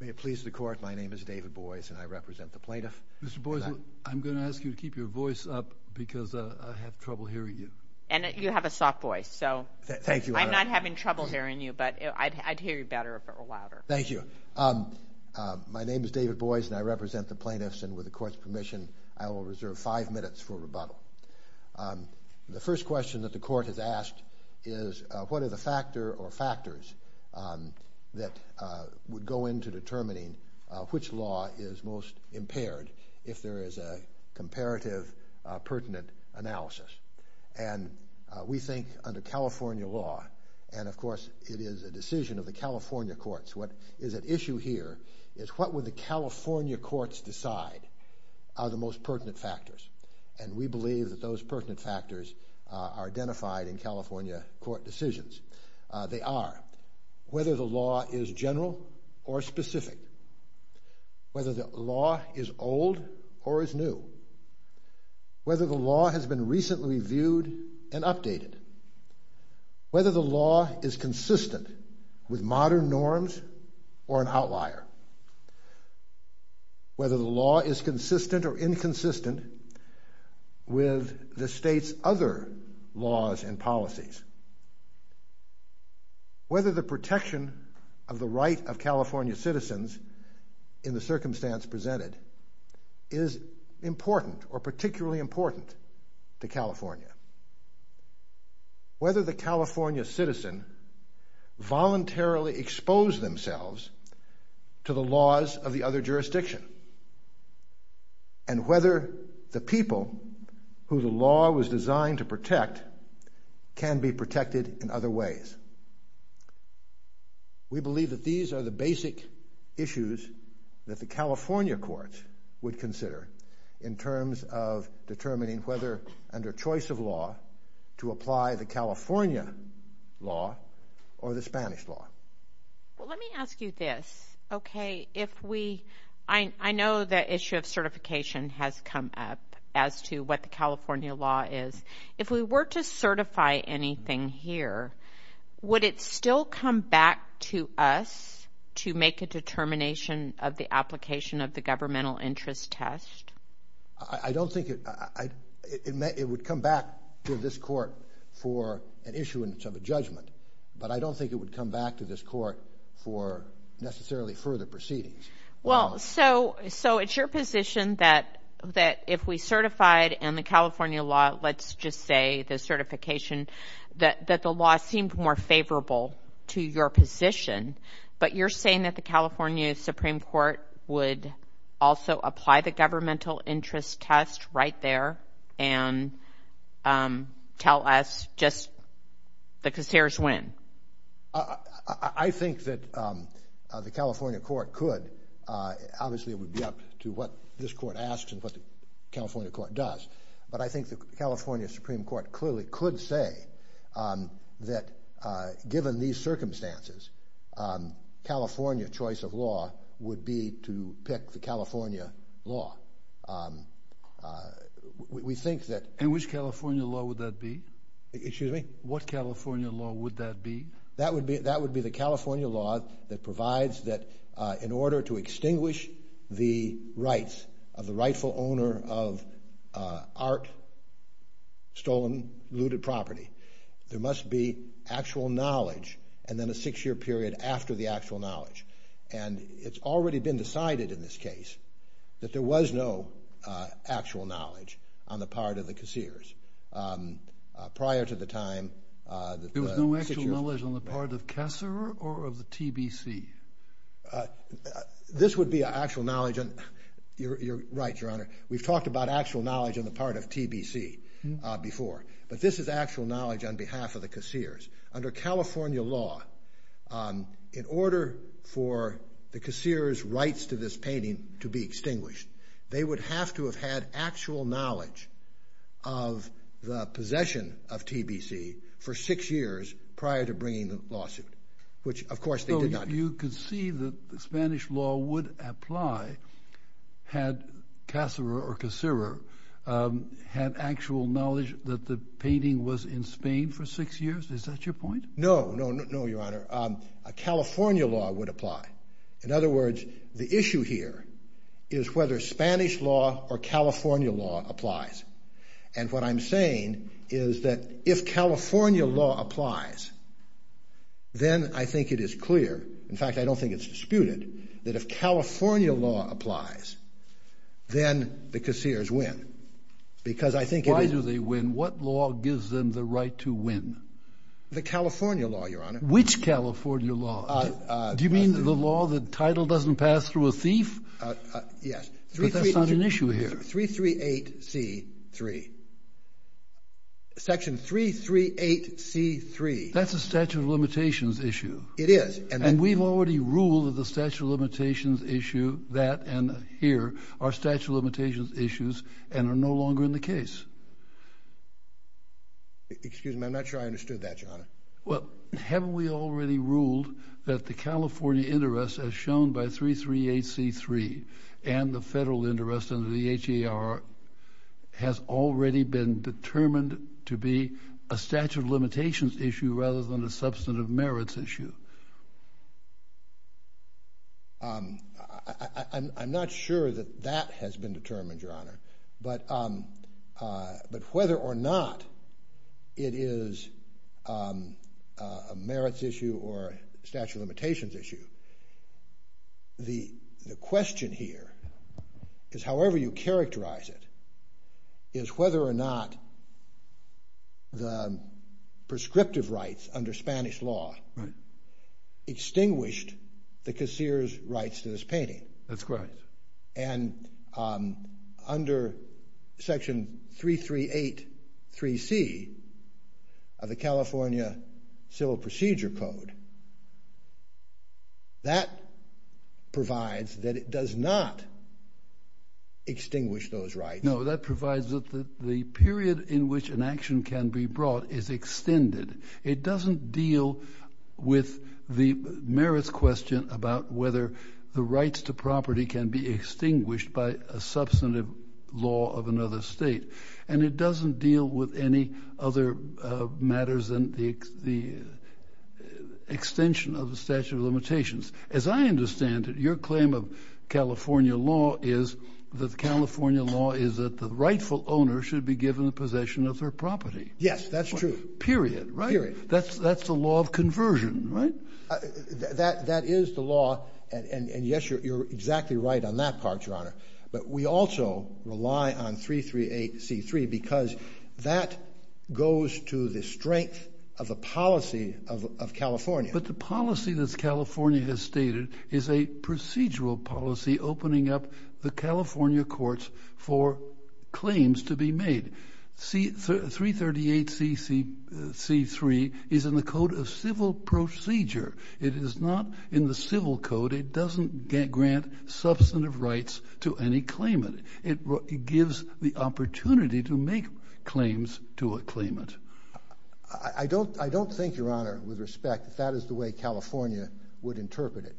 May it please the Court, my name is David Boies and I represent the plaintiffs. Mr. Boies, I'm going to ask you to keep your voice up because I have trouble hearing you. And you have a soft voice, so I'm not having trouble hearing you, but I'd hear you better if it were louder. Thank you. My name is David Boies and I represent the plaintiffs, and with the Court's permission, I will reserve five minutes for rebuttal. The first question that the Court has asked is what are the factor or factors that would go into determining which law is most impaired if there is a comparative pertinent analysis. And we think under California law, and of course it is a decision of the California courts, what is at issue here is what would the California courts decide are the most pertinent factors. And we believe that those pertinent factors are identified in California court decisions. They are whether the law is general or specific, whether the law is old or is new, whether the law has been recently reviewed and updated, whether the law is consistent with modern norms or an outlier, whether the law is consistent or inconsistent with the state's other laws and policies, whether the protection of the right of California citizens in the circumstance presented is important or particularly important to California, whether the California citizen voluntarily exposed themselves to the laws of the other jurisdiction, and whether the people who the law was designed to protect can be protected in other ways. We believe that these are the basic issues that the California courts would consider in terms of determining whether under choice of law to apply the California law or the Spanish law. Let me ask you this. I know the issue of certification has come up as to what the California law is. If we were to certify anything here, would it still come back to us to make a determination of the application of the governmental interest test? I don't think it would come back to this court for an issuance of a judgment, but I don't think it would come back to this court for necessarily further proceedings. Well, so it's your position that if we certified in the California law, let's just say the certification, that the law seemed more favorable to your position, but you're saying that the California Supreme Court would also apply the governmental interest test right there and tell us just the concierge win. I think that the California court could. Obviously, it would be up to what this court asks and what the California court does, but I think the California Supreme Court clearly could say that given these circumstances, California choice of law would be to pick the California law. And which California law would that be? Excuse me? What California law would that be? That would be the California law that provides that in order to extinguish the rights of the rightful owner of art, stolen, looted property, there must be actual knowledge and then a six-year period after the actual knowledge. And it's already been decided in this case that there was no actual knowledge on the part of the concierge. Prior to the time. There was no actual knowledge on the part of the concierge or of the TBC? This would be actual knowledge. You're right, Your Honor. We've talked about actual knowledge on the part of TBC before, but this is actual knowledge on behalf of the concierge. Under California law, in order for the concierge's rights to this painting to be extinguished, they would have to have had actual knowledge of the possession of TBC for six years prior to bringing the lawsuit, which of course they did not. Well, you could see that the Spanish law would apply had Casara or Casara had actual knowledge that the painting was in Spain for six years. Is that your point? No, no, no, Your Honor. A California law would apply. In other words, the issue here is whether Spanish law or California law applies. And what I'm saying is that if California law applies, then I think it is clear, in fact I don't think it's disputed, that if California law applies, then the concierge win. Why do they win? What law gives them the right to win? The California law, Your Honor. Which California law? Do you mean the law that title doesn't pass through a thief? Yes. But that's not an issue here. 338C3. Section 338C3. That's a statute of limitations issue. It is. And we've already ruled that the statute of limitations issue, that and here, are statute of limitations issues and are no longer in the case. Excuse me, I'm not sure I understood that, Your Honor. Well, haven't we already ruled that the California interest, as shown by 338C3, and the federal interest under the HER, has already been determined to be a statute of limitations issue rather than a substantive merits issue? I'm not sure that that has been determined, Your Honor. But whether or not it is a merits issue or a statute of limitations issue, the question here is, however you characterize it, is whether or not the prescriptive rights under Spanish law extinguished the concierge's rights to this painting. That's correct. And under Section 3383C of the California Civil Procedure Code, that provides that it does not extinguish those rights. No, that provides that the period in which an action can be brought is extended. It doesn't deal with the merits question about whether the rights to property can be extinguished by a substantive law of another state. And it doesn't deal with any other matters than the extension of the statute of limitations. As I understand it, your claim of California law is that California law is that the rightful owner should be given the possession of their property. Yes, that's true. Period, right? Period. That's the law of conversion, right? That is the law. And yes, you're exactly right on that part, Your Honor. But we also rely on 338C3 because that goes to the strength of the policy of California. But the policy that California has stated is a procedural policy opening up the California courts for claims to be made. 338C3 is in the Code of Civil Procedure. It is not in the Civil Code. It doesn't grant substantive rights to any claimant. It gives the opportunity to make claims to a claimant. I don't think, Your Honor, with respect, that that is the way California would interpret it.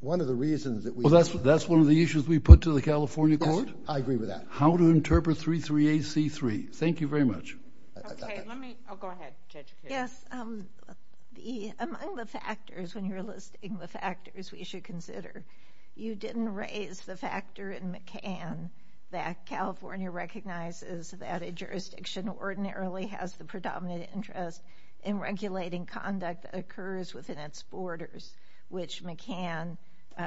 One of the reasons that we— Well, that's one of the issues we put to the California court. I agree with that. How to interpret 338C3. Thank you very much. Okay, let me—oh, go ahead, Judge. Yes, among the factors when you're listing the factors we should consider, you didn't raise the factor in McCann that California recognizes that a jurisdiction ordinarily has the predominant interest in regulating conduct that occurs within its borders, which McCann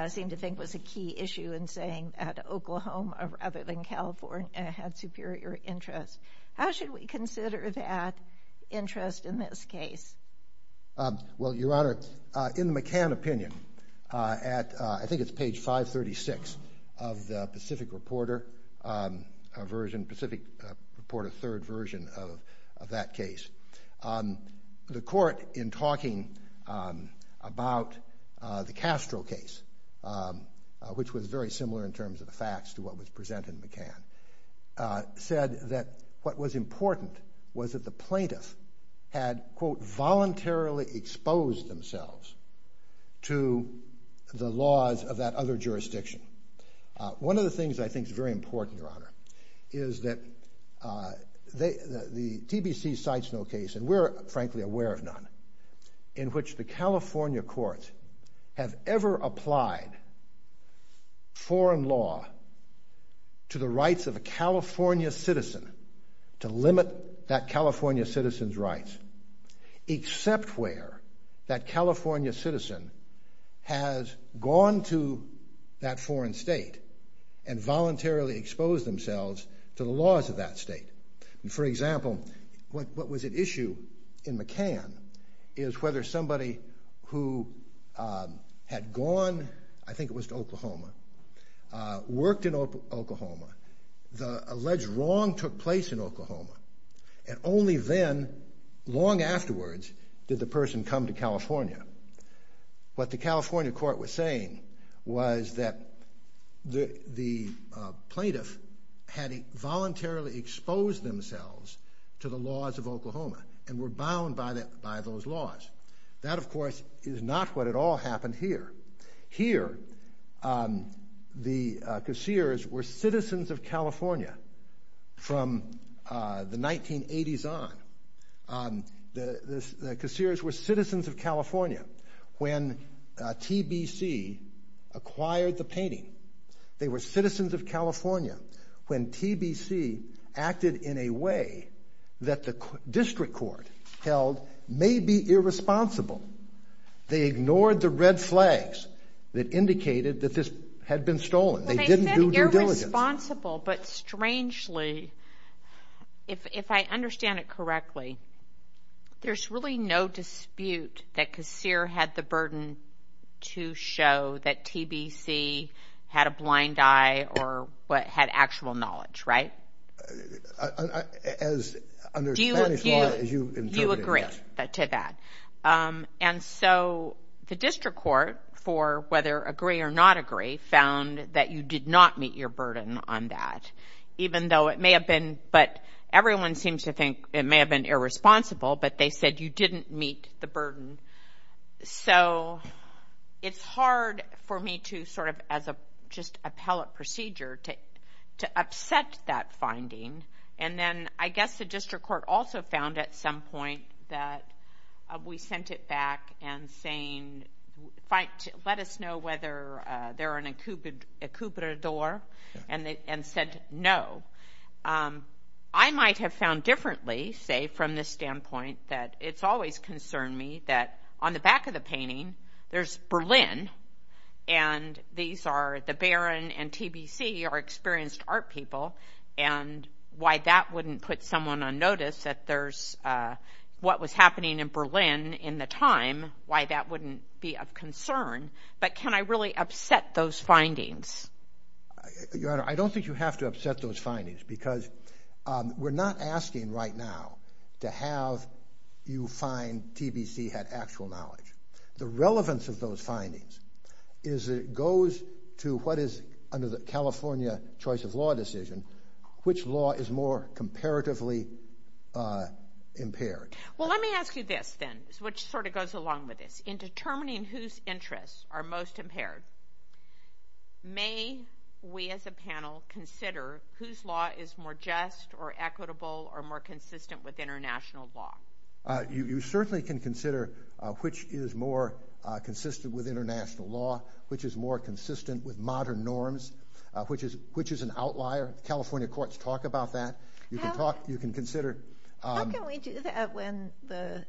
seemed to think was a key issue in saying that Oklahoma, rather than California, has superior interests. How should we consider that interest in this case? Well, Your Honor, in the McCann opinion, at—I think it's page 536 of the Pacific Reporter version, Pacific Reporter third version of that case, the court, in talking about the Castro case, which was very similar in terms of the facts to what was presented in McCann, said that what was important was that the plaintiff had, quote, voluntarily exposed themselves to the laws of that other jurisdiction. One of the things I think is very important, Your Honor, is that the TBC cites no case, and we're frankly aware of none, in which the California courts have ever applied foreign law to the rights of a California citizen, to limit that California citizen's rights, except where that California citizen has gone to that foreign state and voluntarily exposed themselves to the laws of that state. For example, what was at issue in McCann is whether somebody who had gone—I think it was to Oklahoma—worked in Oklahoma, the alleged wrong took place in Oklahoma, and only then, long afterwards, did the person come to California. What the California court was saying was that the plaintiff had voluntarily exposed themselves to the laws of Oklahoma and were bound by those laws. That, of course, is not what at all happened here. Here, the casseers were citizens of California from the 1980s on. The casseers were citizens of California when TBC acquired the painting. They were citizens of California when TBC acted in a way that the district court held maybe irresponsible. They ignored the red flags that indicated that this had been stolen. They didn't do their diligence. They said irresponsible, but strangely, if I understand it correctly, there's really no dispute that casseer had the burden to show that TBC had a blind eye or had actual knowledge, right? Do you agree to that? And so the district court, for whether agree or not agree, found that you did not meet your burden on that, even though it may have been—but everyone seems to think it may have been irresponsible, but they said you didn't meet the burden. So it's hard for me to sort of, as a just appellate procedure, to upset that finding. And then I guess the district court also found at some point that we sent it back and saying let us know whether they're an incubator and said no. I might have found differently, say, from this standpoint, that it's always concerned me that on the back of the painting, there's Berlin, and these are the Baron and TBC are experienced art people, and why that wouldn't put someone on notice that there's what was happening in Berlin in the time, why that wouldn't be of concern. But can I really upset those findings? Your Honor, I don't think you have to upset those findings, because we're not asking right now to have you find TBC had actual knowledge. The relevance of those findings is it goes to what is, under the California choice of law decision, which law is more comparatively impaired. Well, let me ask you this, then, which sort of goes along with this. In determining whose interests are most impaired, may we as a panel consider whose law is more just or equitable or more consistent with international law? You certainly can consider which is more consistent with international law, which is more consistent with modern norms, which is an outlier. California courts talk about that. How can we do that when the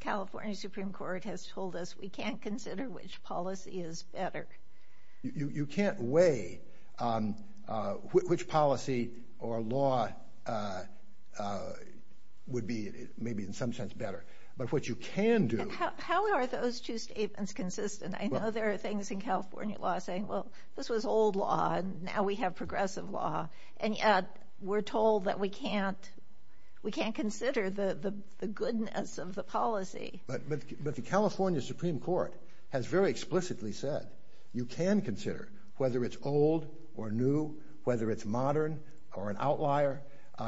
California Supreme Court has told us we can't consider which policy is better? You can't weigh which policy or law would be maybe in some sense better, but what you can do... How are those two statements consistent? I know there are things in California law saying, well, this was old law, and now we have progressive law, and yet we're told that we can't consider the goodness of the policy. But the California Supreme Court has very explicitly said you can consider whether it's old or new, whether it's modern or an outlier.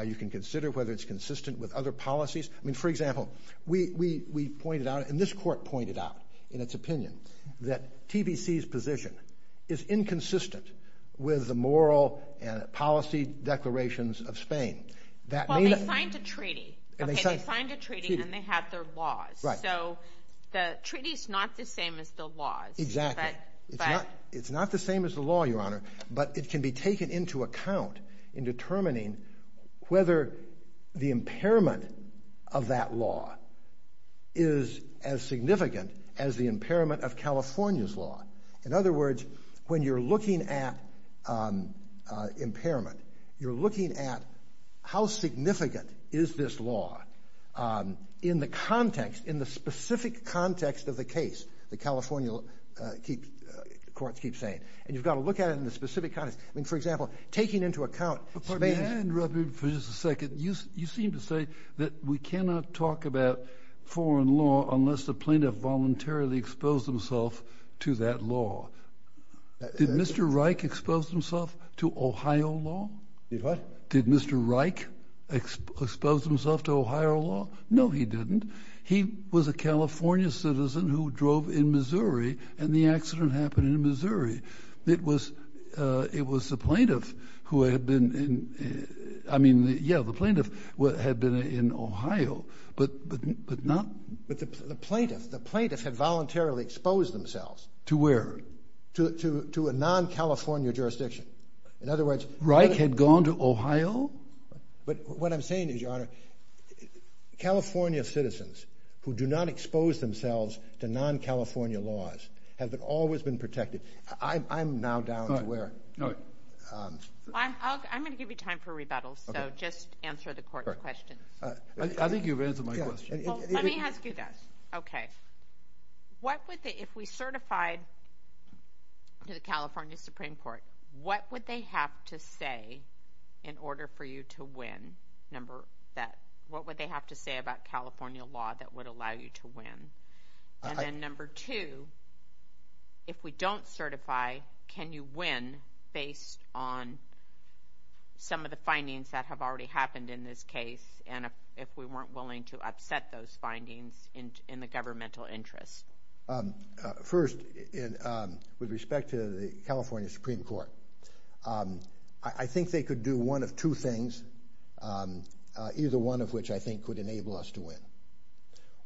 You can consider whether it's consistent with other policies. For example, we pointed out, and this court pointed out in its opinion, that TBC's position is inconsistent with the moral and policy declarations of Spain. Well, they signed a treaty. They signed a treaty, and they have their laws. So the treaty is not the same as the laws. Exactly. It's not the same as the law, Your Honor, but it can be taken into account in determining whether the impairment of that law is as significant as the impairment of California's law. In other words, when you're looking at impairment, you're looking at how significant is this law in the context, in the specific context of the case, the California court keeps saying. And you've got to look at it in the specific context. I mean, for example, taking into account Spain. May I interrupt you for just a second? You seem to say that we cannot talk about foreign law unless the plaintiff voluntarily exposed himself to that law. Did Mr. Reich expose himself to Ohio law? Did what? Did Mr. Reich expose himself to Ohio law? No, he didn't. He was a California citizen who drove in Missouri, and the accident happened in Missouri. It was the plaintiff who had been in, I mean, yeah, the plaintiff had been in Ohio, but not. But the plaintiff, the plaintiff had voluntarily exposed themselves. To where? To a non-California jurisdiction. Reich had gone to Ohio? But what I'm saying is, Your Honor, California citizens who do not expose themselves to non-California laws have always been protected. I'm now down to where? I'm going to give you time for rebuttals, so just answer the court's question. I think you've answered my question. Let me ask you that. Okay. What would they, if we certified to the California Supreme Court, what would they have to say in order for you to win, number one? What would they have to say about California law that would allow you to win? And then number two, if we don't certify, can you win based on some of the findings that have already happened in this case, and if we weren't willing to upset those findings in the governmental interest? First, with respect to the California Supreme Court, I think they could do one of two things, either one of which I think would enable us to win.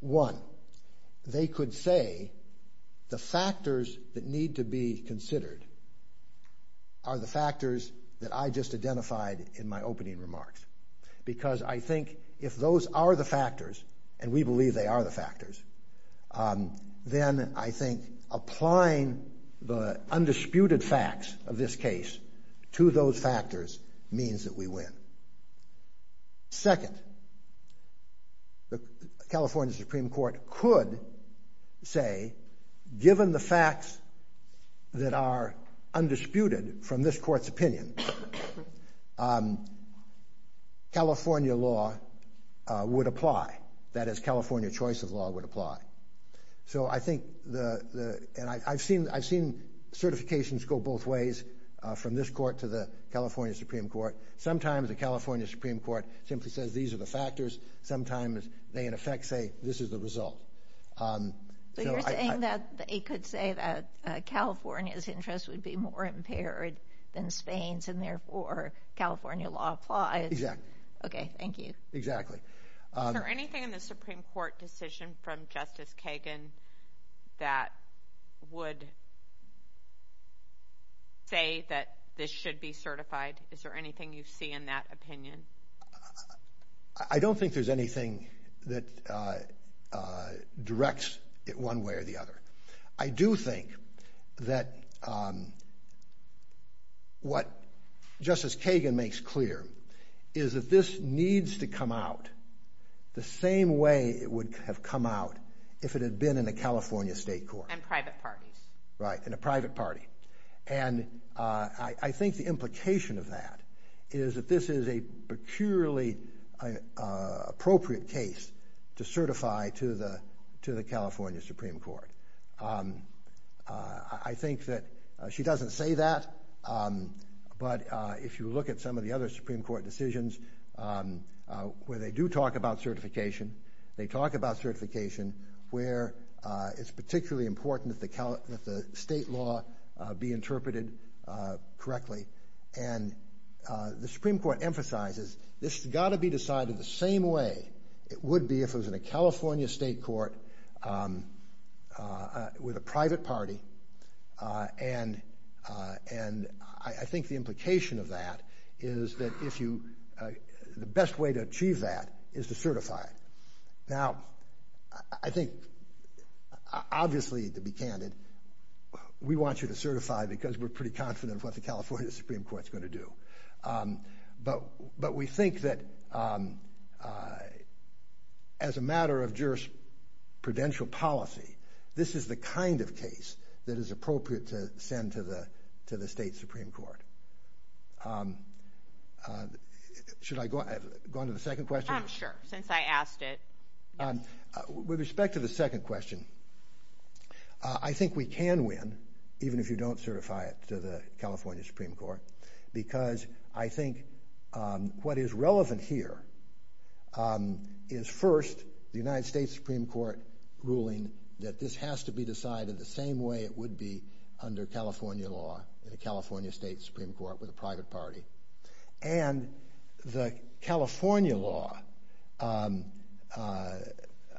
One, they could say the factors that need to be considered are the factors that I just identified in my opening remarks, because I think if those are the factors, and we believe they are the factors, then I think applying the undisputed facts of this case to those factors means that we win. Second, the California Supreme Court could say, given the facts that are undisputed from this court's opinion, California law would apply. That is, California choice of law would apply. So I think, and I've seen certifications go both ways, from this court to the California Supreme Court. Sometimes the California Supreme Court simply says these are the factors. Sometimes they, in effect, say this is the result. But you're saying that they could say that California's interest would be more impaired than Spain's, and therefore California law applies? Exactly. Okay, thank you. Exactly. Is there anything in the Supreme Court decision from Justice Kagan that would say that this should be certified? Is there anything you see in that opinion? I don't think there's anything that directs it one way or the other. I do think that what Justice Kagan makes clear is that this needs to come out the same way it would have come out if it had been in a California state court. And private party. Right, and a private party. And I think the implication of that is that this is a purely appropriate case to certify to the California Supreme Court. I think that she doesn't say that, but if you look at some of the other Supreme Court decisions where they do talk about certification, they talk about certification, where it's particularly important that the state law be interpreted correctly. And the Supreme Court emphasizes this has got to be decided the same way it would be if it was in a California state court with a private party. And I think the implication of that is that if you – the best way to achieve that is to certify it. Now, I think, obviously, to be candid, we want you to certify because we're pretty confident of what the California Supreme Court's going to do. But we think that as a matter of jurisprudential policy, this is the kind of case that is appropriate to send to the state Supreme Court. Should I go on to the second question? Sure, since I asked it. With respect to the second question, I think we can win, even if you don't certify it to the California Supreme Court, because I think what is relevant here is, first, the United States Supreme Court ruling that this has to be decided the same way it would be under California law, in a California state Supreme Court with a private party. And the California law,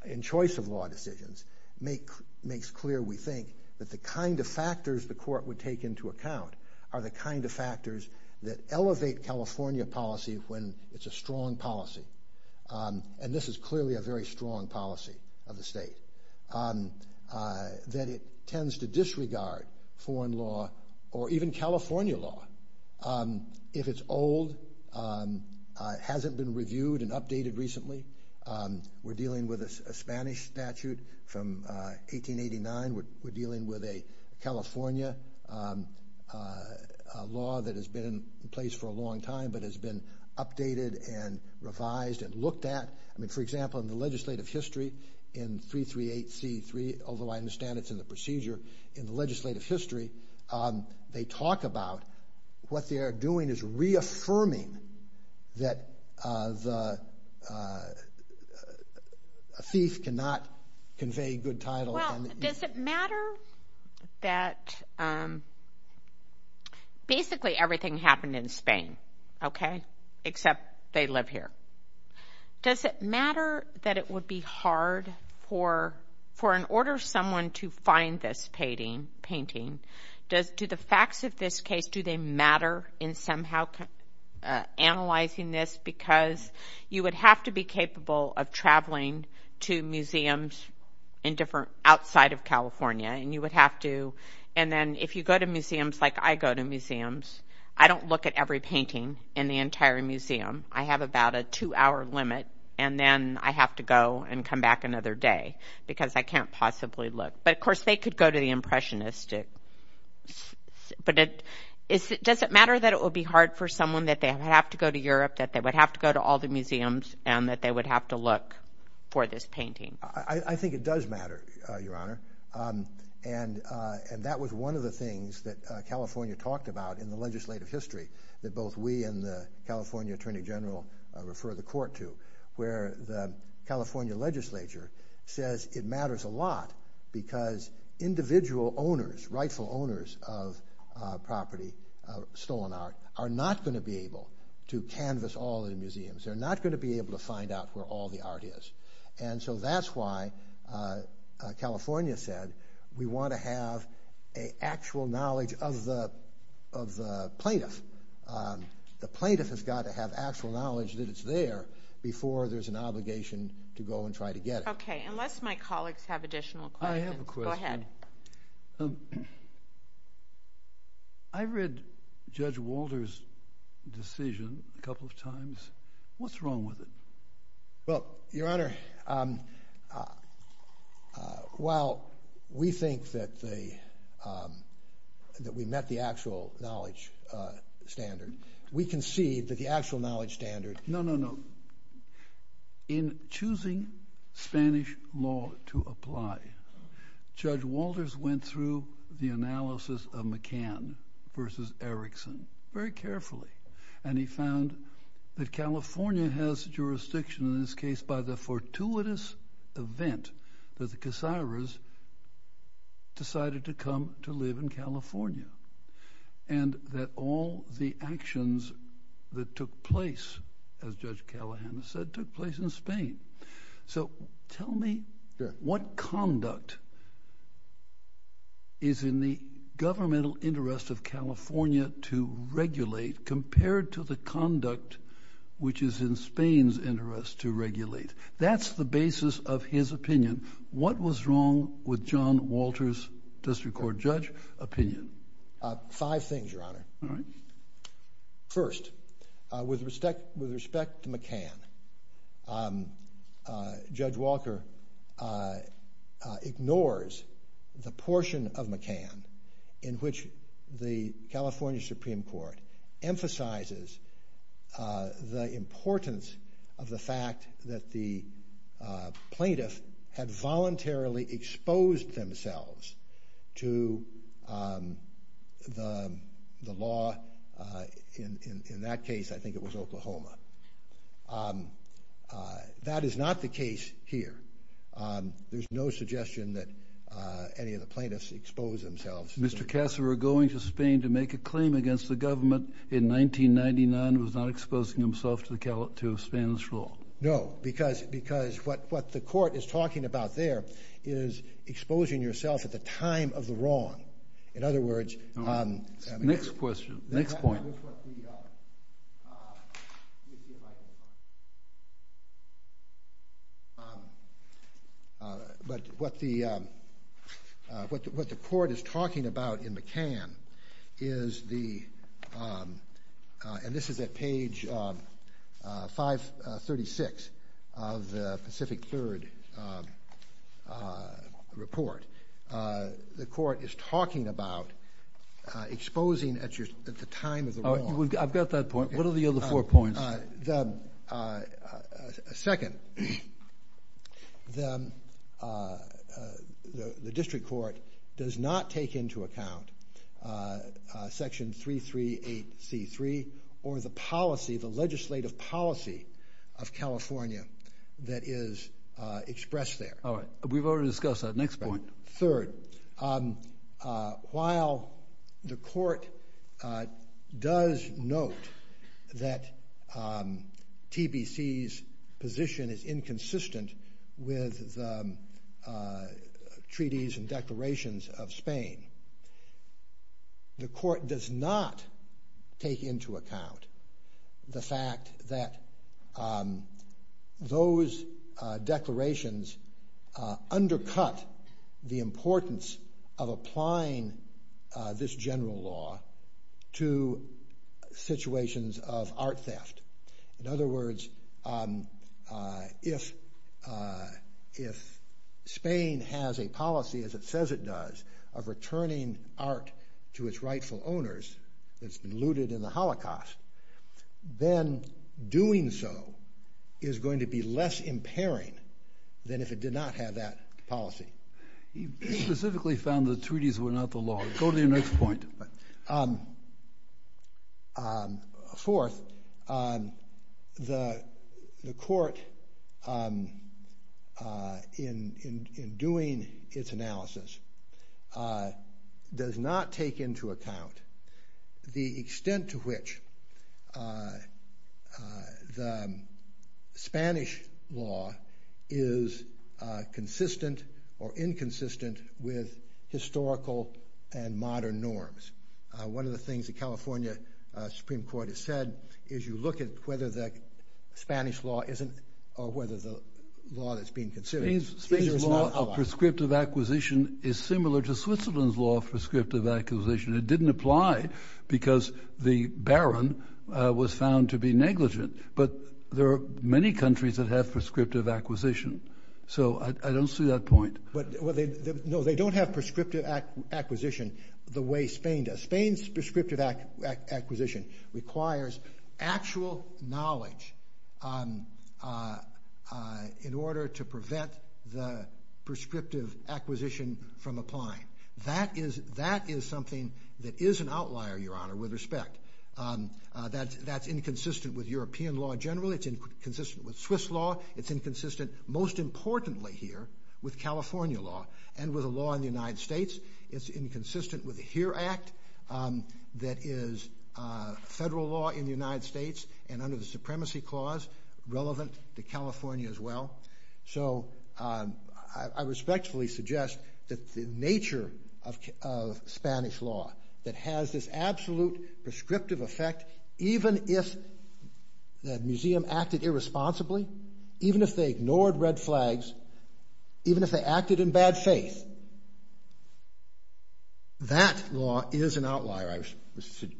in choice of law decisions, makes clear, we think, that the kind of factors the court would take into account are the kind of factors that elevate California policy when it's a strong policy. And this is clearly a very strong policy of the state. That it tends to disregard foreign law, or even California law, if it's old, hasn't been reviewed and updated recently. We're dealing with a Spanish statute from 1889. We're dealing with a California law that has been in place for a long time, but has been updated and revised and looked at. I mean, for example, in the legislative history in 338C3, although I understand it's in the procedure, in the legislative history, they talk about what they are doing is reaffirming that a thief cannot convey good title. Well, does it matter that basically everything happened in Spain, okay, except they live here? Does it matter that it would be hard for an order someone to find this painting? Do the facts of this case, do they matter in somehow analyzing this? Because you would have to be capable of traveling to museums outside of California. And you would have to, and then if you go to museums, like I go to museums, I don't look at every painting in the entire museum. I have about a two-hour limit, and then I have to go and come back another day because I can't possibly look. But, of course, they could go to the Impressionists. But does it matter that it would be hard for someone that they would have to go to Europe, that they would have to go to all the museums, and that they would have to look for this painting? I think it does matter, Your Honor. And that was one of the things that California talked about in the legislative history that both we and the California Attorney General refer the court to, where the California legislature says it matters a lot because individual owners, rightful owners of property, of stolen art, are not going to be able to canvas all the museums. They're not going to be able to find out where all the art is. And so that's why California said we want to have actual knowledge of the plaintiff. The plaintiff has got to have actual knowledge that it's there before there's an obligation to go and try to get it. Okay, unless my colleagues have additional questions. I have a question. Go ahead. I read Judge Walter's decision a couple of times. What's wrong with it? Well, Your Honor, while we think that we met the actual knowledge standard, we concede that the actual knowledge standard— No, no, no. In choosing Spanish law to apply, Judge Walters went through the analysis of McCann versus Erickson very carefully, and he found that California has jurisdiction in this case by the fortuitous event that the Casares decided to come to live in California and that all the actions that took place, as Judge Callahan said, took place in Spain. So tell me what conduct is in the governmental interest of California to regulate compared to the conduct which is in Spain's interest to regulate. That's the basis of his opinion. What was wrong with John Walters, District Court Judge, opinion? Five things, Your Honor. First, with respect to McCann, Judge Walker ignores the portion of McCann in which the California Supreme Court emphasizes the importance of the fact that the plaintiff had voluntarily exposed themselves to the law. In that case, I think it was Oklahoma. That is not the case here. There's no suggestion that any of the plaintiffs exposed themselves— Mr. Casares going to Spain to make a claim against the government in 1999 was not exposing himself to Spanish law. No, because what the court is talking about there is exposing yourself at the time of the wrong. In other words— Next question. Next point. Next point. What the court is talking about in McCann is the—and this is at page 536 of the Pacific Third report. The court is talking about exposing at the time of the wrong. I've got that point. What are the other four points? Second, the district court does not take into account Section 338C3 or the policy, the legislative policy of California that is expressed there. We've already discussed that. Next point. Third, while the court does note that TBC's position is inconsistent with treaties and declarations of Spain, the court does not take into account the fact that those declarations undercut the importance of applying this general law to situations of art theft. In other words, if Spain has a policy, as it says it does, of returning art to its rightful owners that's been looted in the Holocaust, then doing so is going to be less impairing than if it did not have that policy. He specifically found the treaties were not the law. Go to your next point. Fourth, the court, in doing its analysis, does not take into account the extent to which the Spanish law is consistent or inconsistent with historical and modern norms. One of the things the California Supreme Court has said is you look at whether the Spanish law isn't or whether the law that's being considered. Spain's law of prescriptive acquisition is similar to Switzerland's law of prescriptive acquisition. It didn't apply because the baron was found to be negligent. But there are many countries that have prescriptive acquisition. So I don't see that point. No, they don't have prescriptive acquisition the way Spain does. Spain's prescriptive acquisition requires actual knowledge in order to prevent the prescriptive acquisition from applying. That is something that is an outlier, Your Honor, with respect. That's inconsistent with European law generally. It's inconsistent with Swiss law. It's inconsistent, most importantly here, with California law and with the law in the United States. It's inconsistent with the HERE Act that is federal law in the United States and under the Supremacy Clause relevant to California as well. So I respectfully suggest that the nature of Spanish law that has this absolute prescriptive effect even if the museum acted irresponsibly, even if they ignored red flags, even if they acted in bad faith, that law is an outlier, I would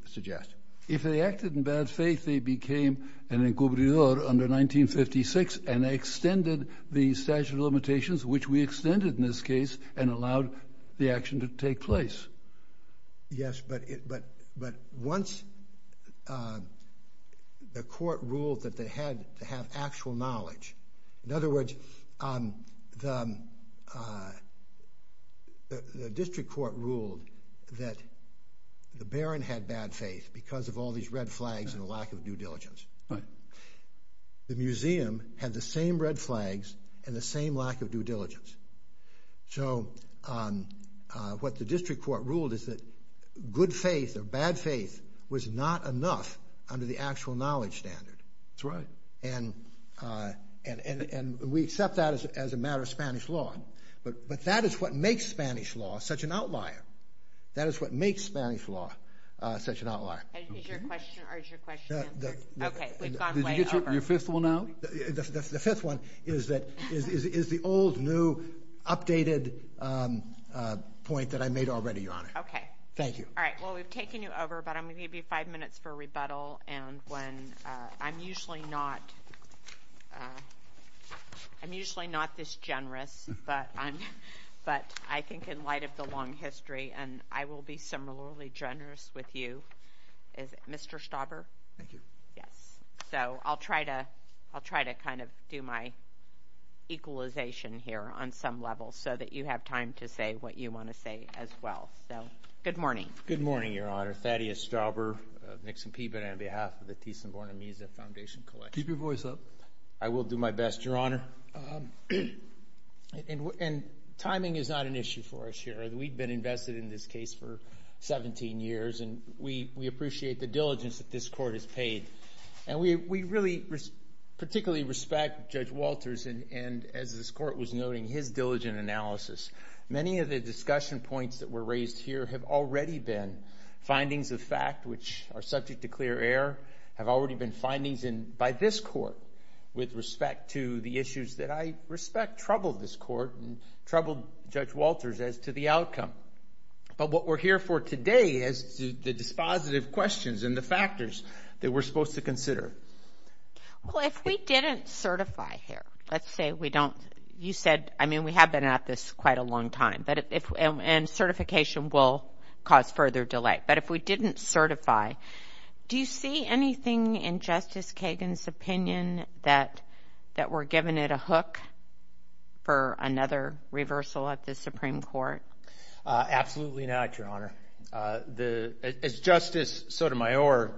suggest. If they acted in bad faith, they became an encubridor under 1956 and extended the statute of limitations, which we extended in this case, and allowed the action to take place. Yes, but once the court ruled that they had to have actual knowledge, in other words, the district court ruled that the Baron had bad faith because of all these red flags and the lack of due diligence. The museum had the same red flags and the same lack of due diligence. So what the district court ruled is that good faith or bad faith was not enough under the actual knowledge standard. That's right. And we accept that as a matter of Spanish law. But that is what makes Spanish law such an outlier. That is what makes Spanish law such an outlier. Is your question answered? Okay, we've gone way over. Your fifth one now? The fifth one is the old, new, updated point that I made already, Your Honor. Okay. Thank you. All right, well, we've taken you over, but I'm going to give you five minutes for rebuttal. And I'm usually not this generous, but I think in light of the long history, and I will be similarly generous with you, Mr. Stauber. Thank you. Yes, so I'll try to kind of do my equalization here on some level so that you have time to say what you want to say as well. So, good morning. Good morning, Your Honor. Thaddeus Stauber of Nixon Peabody on behalf of the Thyssen-Bornemisza Foundation. Keep your voice up. I will do my best, Your Honor. And timing is not an issue for us here. We've been invested in this case for 17 years, and we appreciate the diligence that this court has paid. And we really particularly respect Judge Walters, and as this court was noting, his diligent analysis. Many of the discussion points that were raised here have already been findings of fact, which are subject to clear air, have already been findings by this court with respect to the issues that I respect troubled this court and troubled Judge Walters as to the outcome. But what we're here for today is the dispositive questions and the factors that we're supposed to consider. Well, if we didn't certify here, let's say we don't. You said, I mean, we have been at this quite a long time, and certification will cause further delay. But if we didn't certify, do you see anything in Justice Kagan's opinion that we're giving it a hook for another reversal at the Supreme Court? Absolutely not, Your Honor. As Justice Sotomayor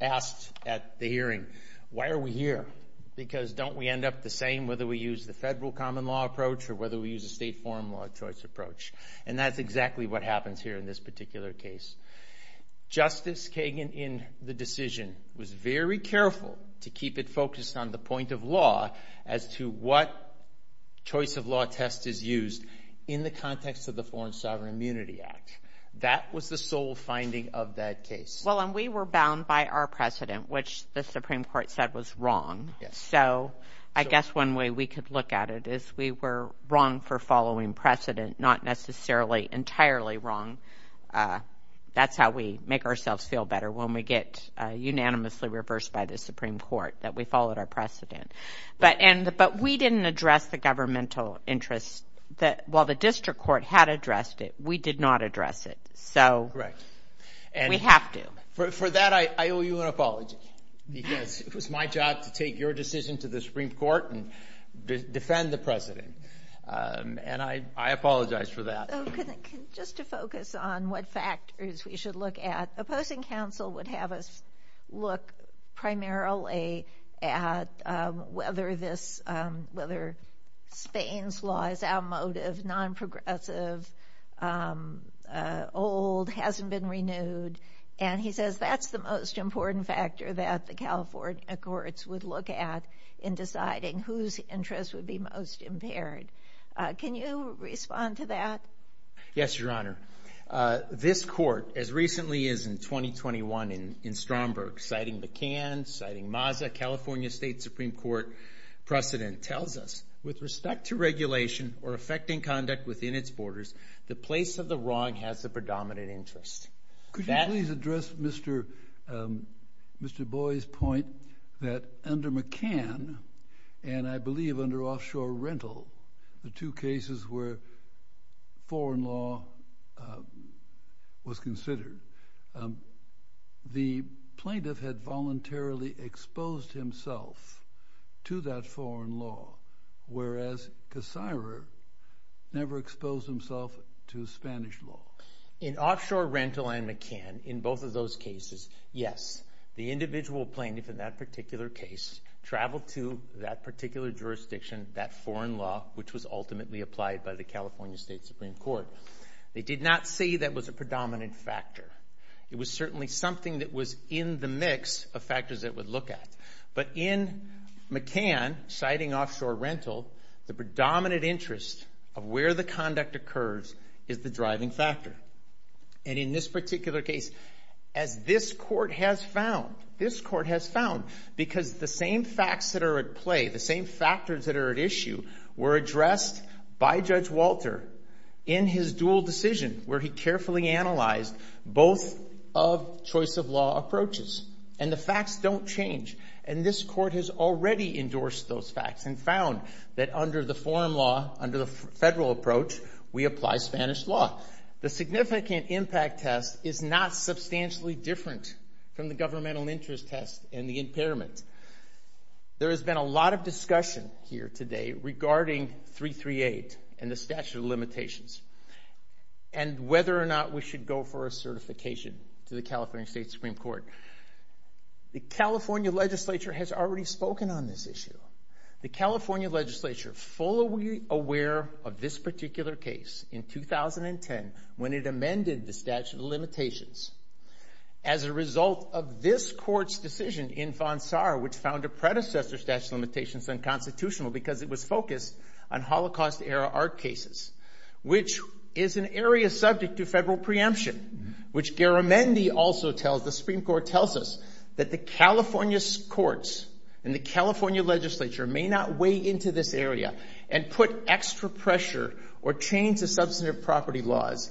asked at the hearing, why are we here? Because don't we end up the same whether we use the federal common law approach or whether we use a state foreign law choice approach? And that's exactly what happens here in this particular case. Justice Kagan in the decision was very careful to keep it focused on the point of law as to what choice of law test is used in the context of the Foreign Sovereign Immunity Act. That was the sole finding of that case. Well, and we were bound by our precedent, which the Supreme Court said was wrong. So I guess one way we could look at it is we were wrong for following precedent, not necessarily entirely wrong. That's how we make ourselves feel better when we get unanimously reversed by the Supreme Court, that we followed our precedent. But we didn't address the governmental interest. While the district court had addressed it, we did not address it. So we have to. For that, I owe you an apology because it was my job to take your decision to the Supreme Court and defend the precedent. And I apologize for that. So just to focus on what factors we should look at, the opposing counsel would have us look primarily at whether Spain's law is outmoded, non-progressive, old, hasn't been renewed. And he says that's the most important factor that the California courts would look at in deciding whose interests would be most impaired. Can you respond to that? Yes, Your Honor. This court, as recently as in 2021 in Stromberg, citing McCann, citing Mazda, California State Supreme Court precedent, tells us with respect to regulation or affecting conduct within its borders, the place of the wrong has the predominant interest. Could you please address Mr. Boyd's point that under McCann, and I believe under offshore rental, the two cases where foreign law was considered, the plaintiff had voluntarily exposed himself to that foreign law, whereas Cassirer never exposed himself to Spanish law. In offshore rental and McCann, in both of those cases, yes, the individual plaintiff in that particular case traveled to that particular jurisdiction, that foreign law, which was ultimately applied by the California State Supreme Court. They did not say that was a predominant factor. It was certainly something that was in the mix of factors they would look at. But in McCann, citing offshore rental, the predominant interest of where the conduct occurs is the driving factor. And in this particular case, as this court has found, this court has found, because the same facts that are at play, the same factors that are at issue were addressed by Judge Walter in his dual decision where he carefully analyzed both choice of law approaches. And the facts don't change. And this court has already endorsed those facts and found that under the foreign law, under the federal approach, we apply Spanish law. The significant impact test is not substantially different from the governmental interest test in the impairment. There has been a lot of discussion here today regarding 338 and the statute of limitations and whether or not we should go for a certification to the California State Supreme Court. The California legislature has already spoken on this issue. The California legislature, fully aware of this particular case in 2010 when it amended the statute of limitations, as a result of this court's decision in Fonsar, which found a predecessor statute of limitations unconstitutional because it was focused on Holocaust-era art cases, which is an area subject to federal preemption, which Garamendi also tells us, the Supreme Court tells us, that the California courts and the California legislature may not weigh into this area and put extra pressure or change the substantive property laws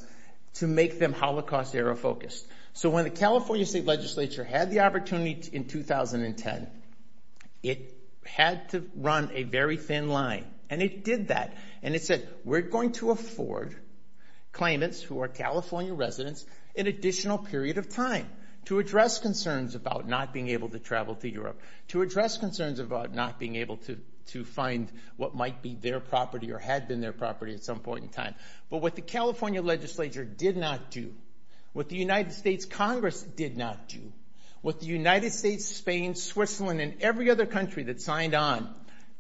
to make them Holocaust-era focused. So when the California state legislature had the opportunity in 2010, it had to run a very thin line. And it did that. And it said, we're going to afford claimants who are California residents an additional period of time to address concerns about not being able to travel to Europe, to address concerns about not being able to find what might be their property or had been their property at some point in time. But what the California legislature did not do, what the United States Congress did not do, what the United States, Spain, Switzerland, and every other country that signed on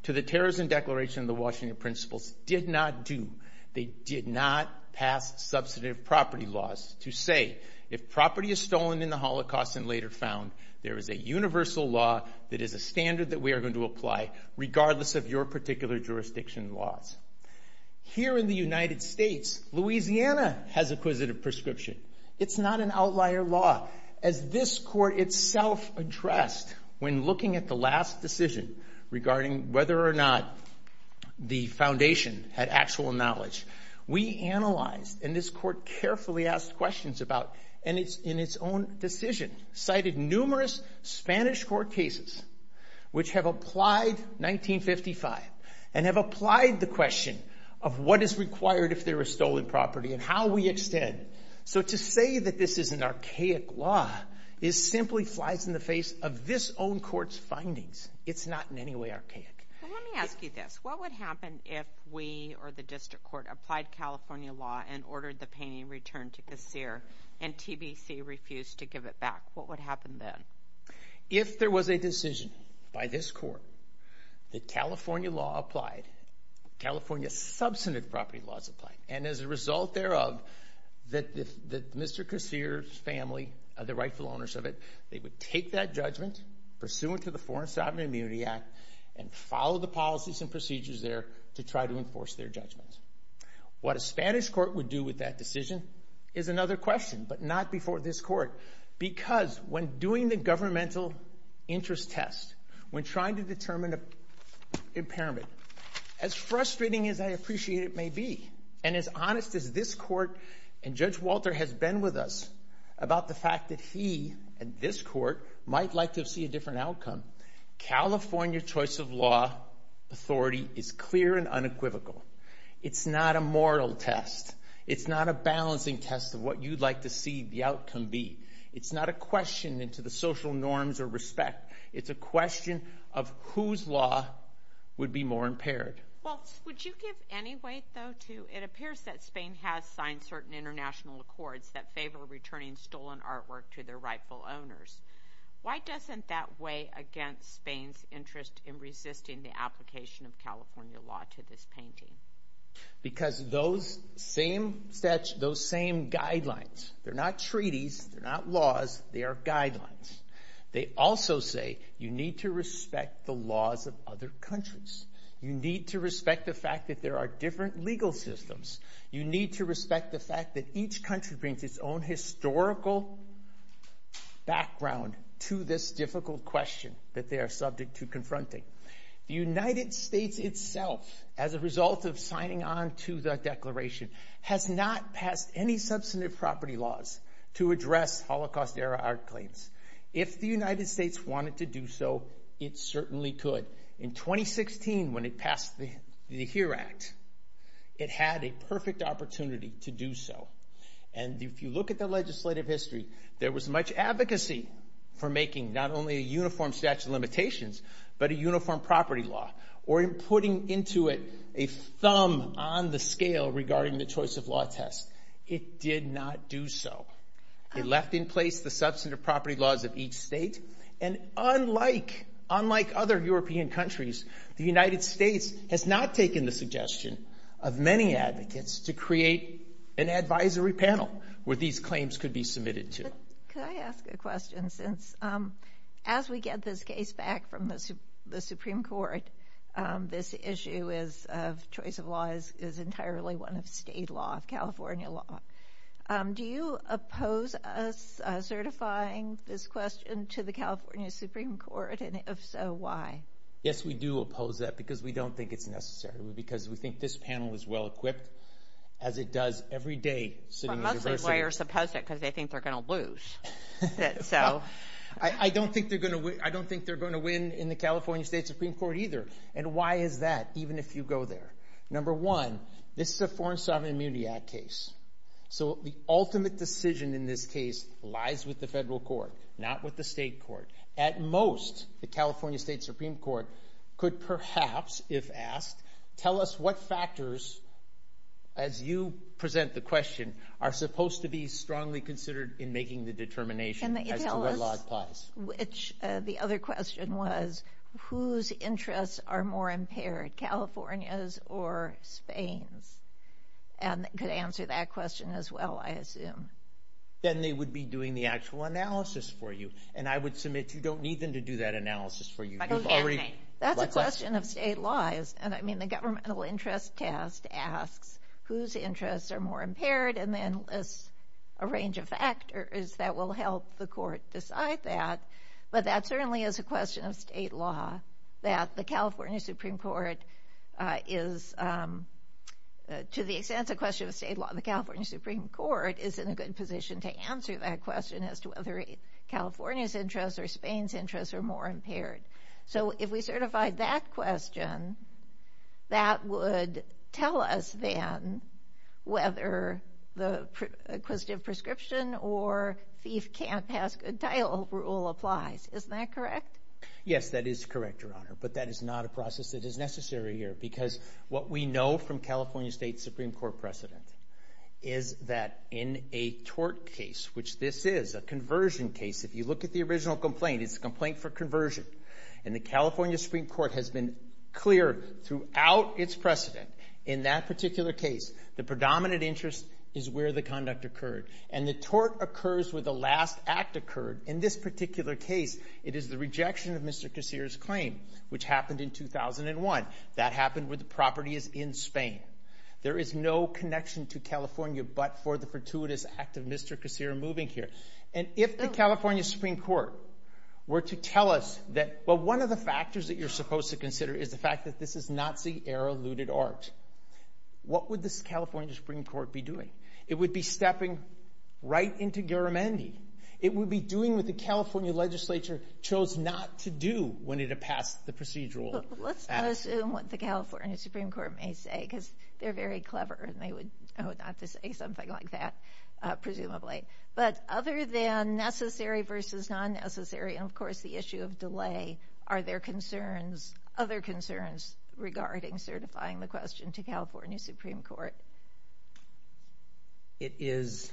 to the Terrorism Declaration of the Washington Principles did not do, they did not pass substantive property laws to say, if property is stolen in the Holocaust and later found, there is a universal law that is a standard that we are going to apply regardless of your particular jurisdiction laws. Here in the United States, Louisiana has acquisitive prescription. It's not an outlier law. As this court itself addressed when looking at the last decision regarding whether or not the foundation had actual knowledge, we analyzed, and this court carefully asked questions about, and in its own decision cited numerous Spanish court cases which have applied 1955 and have applied the question of what is required if there is stolen property and how we extend. So to say that this is an archaic law simply flies in the face of this own court's findings. It's not in any way archaic. Let me ask you this. What would happen if we or the district court applied California law and ordered the painting returned to this year and TBC refused to give it back? What would happen then? If there was a decision by this court that California law applied, California substantive property laws applied, and as a result thereof, that Mr. Casier's family, the rightful owners of it, they would take that judgment pursuant to the Foreign Assignment Immunity Act and follow the policies and procedures there to try to enforce their judgments. What a Spanish court would do with that decision is another question, but not before this court, because when doing the governmental interest test, when trying to determine impairment, as frustrating as I appreciate it may be, and as honest as this court and Judge Walter have been with us about the fact that he and this court might like to see a different outcome, California choice of law authority is clear and unequivocal. It's not a moral test. It's not a balancing test of what you'd like to see the outcome be. It's not a question into the social norms of respect. It's a question of whose law would be more impaired. Well, would you give any weight though to it appears that Spain has signed certain international accords that favor returning stolen artwork to their rightful owners. Why doesn't that weigh against Spain's interest in resisting the application of California law to this painting? Because those same guidelines, they're not treaties, they're not laws, they are guidelines. They also say you need to respect the laws of other countries. You need to respect the fact that there are different legal systems. You need to respect the fact that each country brings its own historical background to this difficult question that they are subject to confronting. The United States itself, as a result of signing on to the declaration, has not passed any substantive property laws to address Holocaust-era art claims. If the United States wanted to do so, it certainly could. In 2016, when it passed the HERE Act, it had a perfect opportunity to do so. And if you look at the legislative history, there was much advocacy for making not only a uniform statute of limitations, but a uniform property law, or in putting into it a thumb on the scale regarding the choice of law test. It did not do so. It left in place the substantive property laws of each state. And unlike other European countries, the United States has not taken the suggestion of many advocates to create an advisory panel where these claims could be submitted to. Can I ask a question? As we get this case back from the Supreme Court, this issue of choice of laws is entirely one of state law, California law. Do you oppose us certifying this question to the California Supreme Court? And if so, why? Yes, we do oppose that because we don't think it's necessary, because we think this panel is well-equipped, as it does every day. Supposedly, lawyers oppose it because they think they're going to lose. I don't think they're going to win in the California State Supreme Court either. And why is that, even if you go there? Number one, this is a Foreign Sovereign Immunity Act case, so the ultimate decision in this case lies with the federal court, not with the state court. At most, the California State Supreme Court could perhaps, if asked, tell us what factors, as you present the question, are supposed to be strongly considered in making the determination of the choice of laws clause. The other question was, whose interests are more impaired, California's or Spain's? And it could answer that question as well, I assume. Then they would be doing the actual analysis for you. And I would submit you don't need them to do that analysis for you. That's a question of state laws. I mean, the governmental interest test asks whose interests are more impaired and then lists a range of factors that will help the court decide that. But that certainly is a question of state law, that the California Supreme Court is, to the extent it's a question of state law, the California Supreme Court is in a good position to answer that question as to whether California's interests or Spain's interests are more impaired. So if we certify that question, that would tell us then whether the acquisitive prescription or thief can't pass a title rule applies. Isn't that correct? Yes, that is correct, Your Honor. But that is not a process that is necessary here because what we know from California State Supreme Court precedent is that in a tort case, which this is, a conversion case, if you look at the original complaint, it's a complaint for conversion. And the California Supreme Court has been clear throughout its precedent in that particular case, the predominant interest is where the conduct occurred. And the tort occurs where the last act occurred. In this particular case, it is the rejection of Mr. Casere's claim, which happened in 2001. That happened where the property is in Spain. There is no connection to California but for the fortuitous act of Mr. Casere moving here. And if the California Supreme Court were to tell us that, well, one of the factors that you're supposed to consider is the fact that this is Nazi-era looted art, what would the California Supreme Court be doing? It would be stepping right into Garamendi. It would be doing what the California legislature chose not to do when it had passed the procedural act. Let's not assume what the California Supreme Court may say because they're very clever and they would know not to say something like that, presumably. But other than necessary versus non-necessary, and of course the issue of delay, are there other concerns regarding certifying the question to California Supreme Court? It is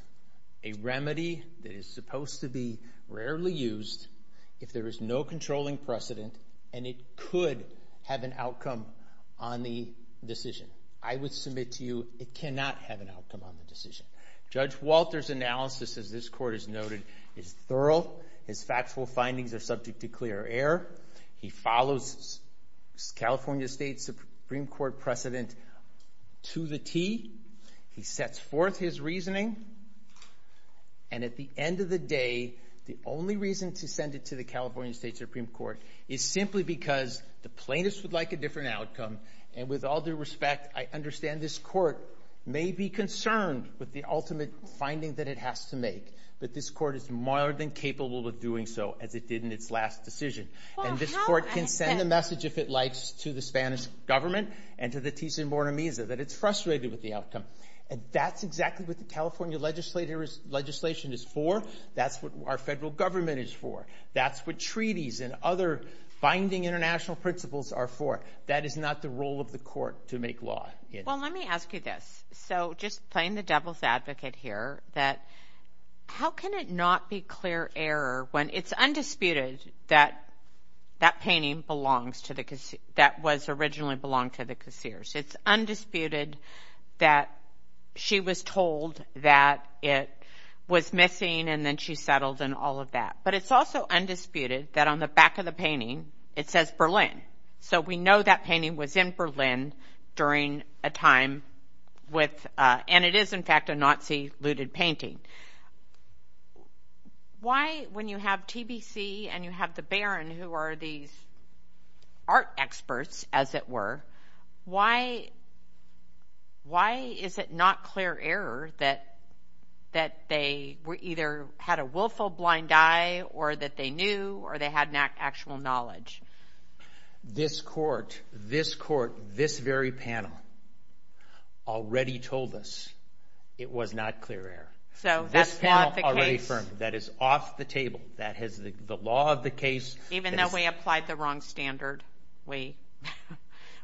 a remedy that is supposed to be rarely used if there is no controlling precedent and it could have an outcome on the decision. Judge Walter's analysis, as this court has noted, is thorough and its factual findings are subject to clear air. He follows California State Supreme Court precedent to the T. He sets forth his reasoning and at the end of the day, the only reason to send it to the California State Supreme Court is simply because the plaintiffs would like a different outcome and with all due respect, I understand this court may be concerned with the ultimate finding that it has to make, but this court is more than capable of doing so as it did in its last decision. And this court can send a message if it likes to the Spanish government and to the T.C. Bornemisa that it's frustrated with the outcome. And that's exactly what the California legislation is for. That's what our federal government is for. That's what treaties and other binding international principles are for. That is not the role of the court to make law. Well, let me ask you this. So just playing the devil's advocate here that how can it not be clear air when it's undisputed that that painting belongs to the casseers, that was originally belonged to the casseers. It's undisputed that she was told that it was missing and then she settled and all of that. But it's also undisputed that on the back of the painting it says Berlin. So we know that painting was in Berlin during a time with and it is in fact a Nazi looted painting. Why when you have TBC and you have the Baron who are the art experts as it were, why is it not clear air that they either had a willful blind eye or that they knew or they had an actual knowledge? This court, this court, this very panel already told us it was not clear air. This panel already affirmed that is off the table. That is the law of the case. Even though we applied the wrong standard, we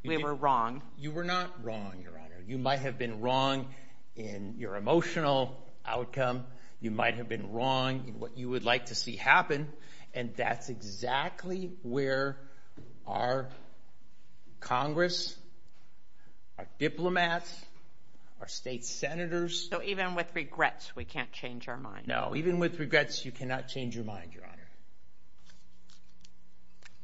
were wrong. You were not wrong, Your Honor. You might have been wrong in your emotional outcome. You might have been wrong in what you would like to see happen and that's exactly where our Congress, our diplomats, our state senators. So even with regrets we can't change our mind. No, even with regrets you cannot change your mind, Your Honor.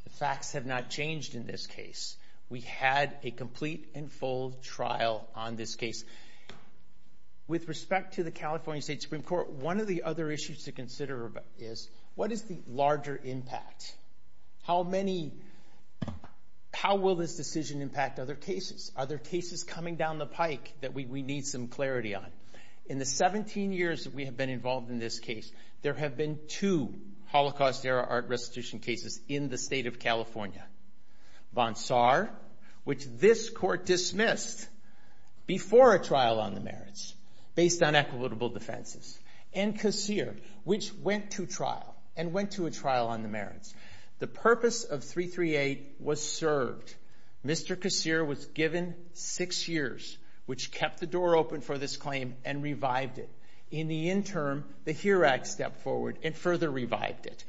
The facts have not changed in this case. We had a complete and full trial on this case. With respect to the California State Supreme Court, one of the other issues to consider is what is the larger impact? How many, how will this decision impact other cases? Are there cases coming down the pike that we need some clarity on? In the 17 years that we have been involved in this case, there have been two Holocaust era art restitution cases in the state of California. Bonsar, which this court dismissed before a trial on the merits based on equitable defenses. And Casir, which went to trial and went to a trial on the merits. The purpose of 338 was served. Mr. Casir was given six years, which kept the door open for this claim and revived it. In the interim, the HERA Act stepped forward and further revived it.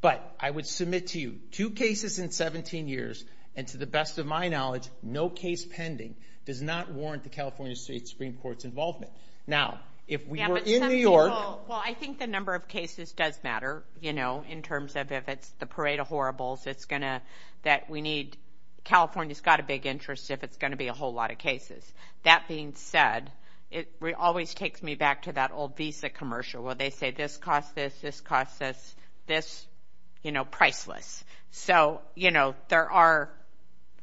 But I would submit to you, two cases in 17 years and to the best of my knowledge, no case pending does not warrant the California State Supreme Court's involvement. Now, if we were in New York. Well, I think the number of cases does matter, you know, in terms of if it's the parade of horribles that we need. California's got a big interest if it's going to be a whole lot of cases. That being said, it always takes me back to that old Visa commercial where they say this costs this, this costs this, this, you know, priceless. So, you know, there are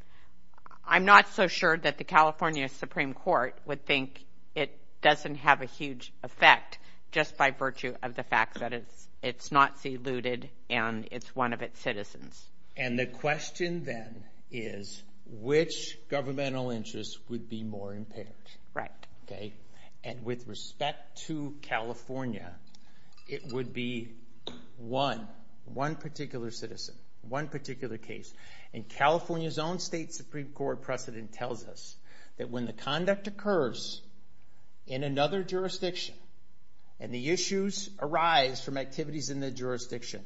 – I'm not so sure that the California Supreme Court would think it doesn't have a huge effect just by virtue of the fact that it's not diluted and it's one of its citizens. And the question then is, which governmental interest would be more impedant? Right. Okay. And with respect to California, it would be one, one particular citizen, one particular case. And California's own State Supreme Court precedent tells us that when the conduct occurs in another jurisdiction and the issues arise from activities in the jurisdiction,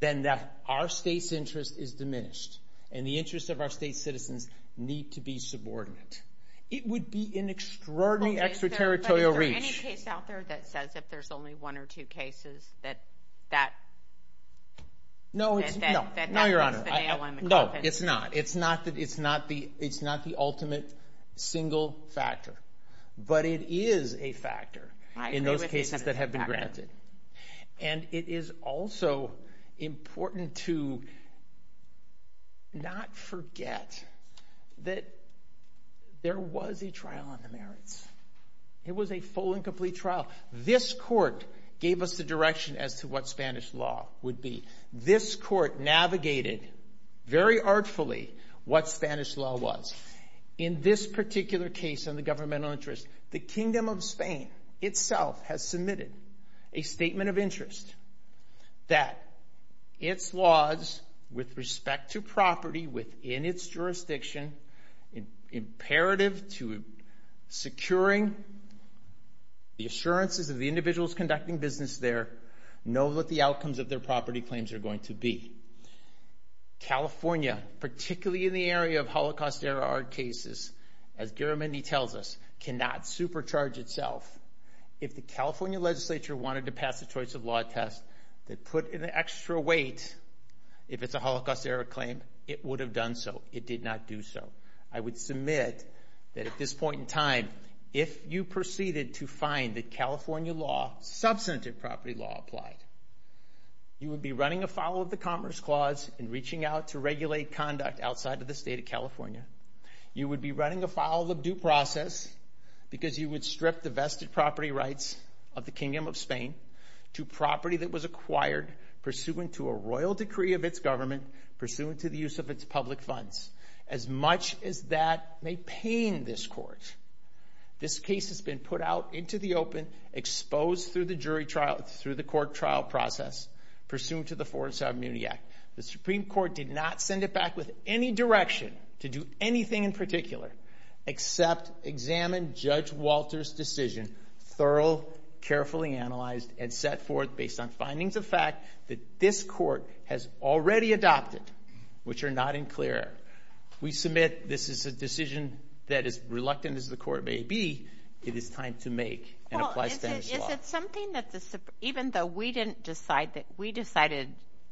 then our state's interest is diminished and the interests of our state citizens need to be subordinate. It would be an extraordinary extraterritorial reach. Okay, so is there any case out there that says if there's only one or two cases that that – No, it's – no, no, Your Honor. No, it's not. It's not that – it's not the – it's not the ultimate single factor. But it is a factor in those cases that have been granted. And it is also important to not forget that there was a trial on the merits. It was a full and complete trial. This court gave us the direction as to what Spanish law would be. This court navigated very artfully what Spanish law was. In this particular case on the governmental interest, the Kingdom of Spain itself has submitted a statement of interest that its laws with respect to property within its jurisdiction imperative to securing the assurances of the individuals conducting business there know what the outcomes of their property claims are going to be. California, particularly in the area of Holocaust-era armed cases, as Jeremy tells us, cannot supercharge itself. If the California legislature wanted to pass a choice of law test that put an extra weight if it's a Holocaust-era claim, it would have done so. It did not do so. I would submit that at this point in time, if you proceeded to find that California law, substantive property law applied, you would be running afoul of the Commerce Clause and reaching out to regulate conduct outside of the state of California. You would be running afoul of due process because you would strip the vested property rights of the Kingdom of Spain to property that was acquired pursuant to a royal decree of its government, pursuant to the use of its public funds. As much as that may pain this court, this case has been put out into the open, exposed through the jury trial, through the court trial process, pursuant to the Forest Avenue Act. The Supreme Court did not send it back with any direction to do anything in particular except examine Judge Walter's decision thoroughly, carefully analyzed, and set forth based on findings of fact that this court has already adopted, which are not in clear. We submit this is a decision that, as reluctant as the court may be, it is time to make and apply Spanish law. Well, is it something that even though we decided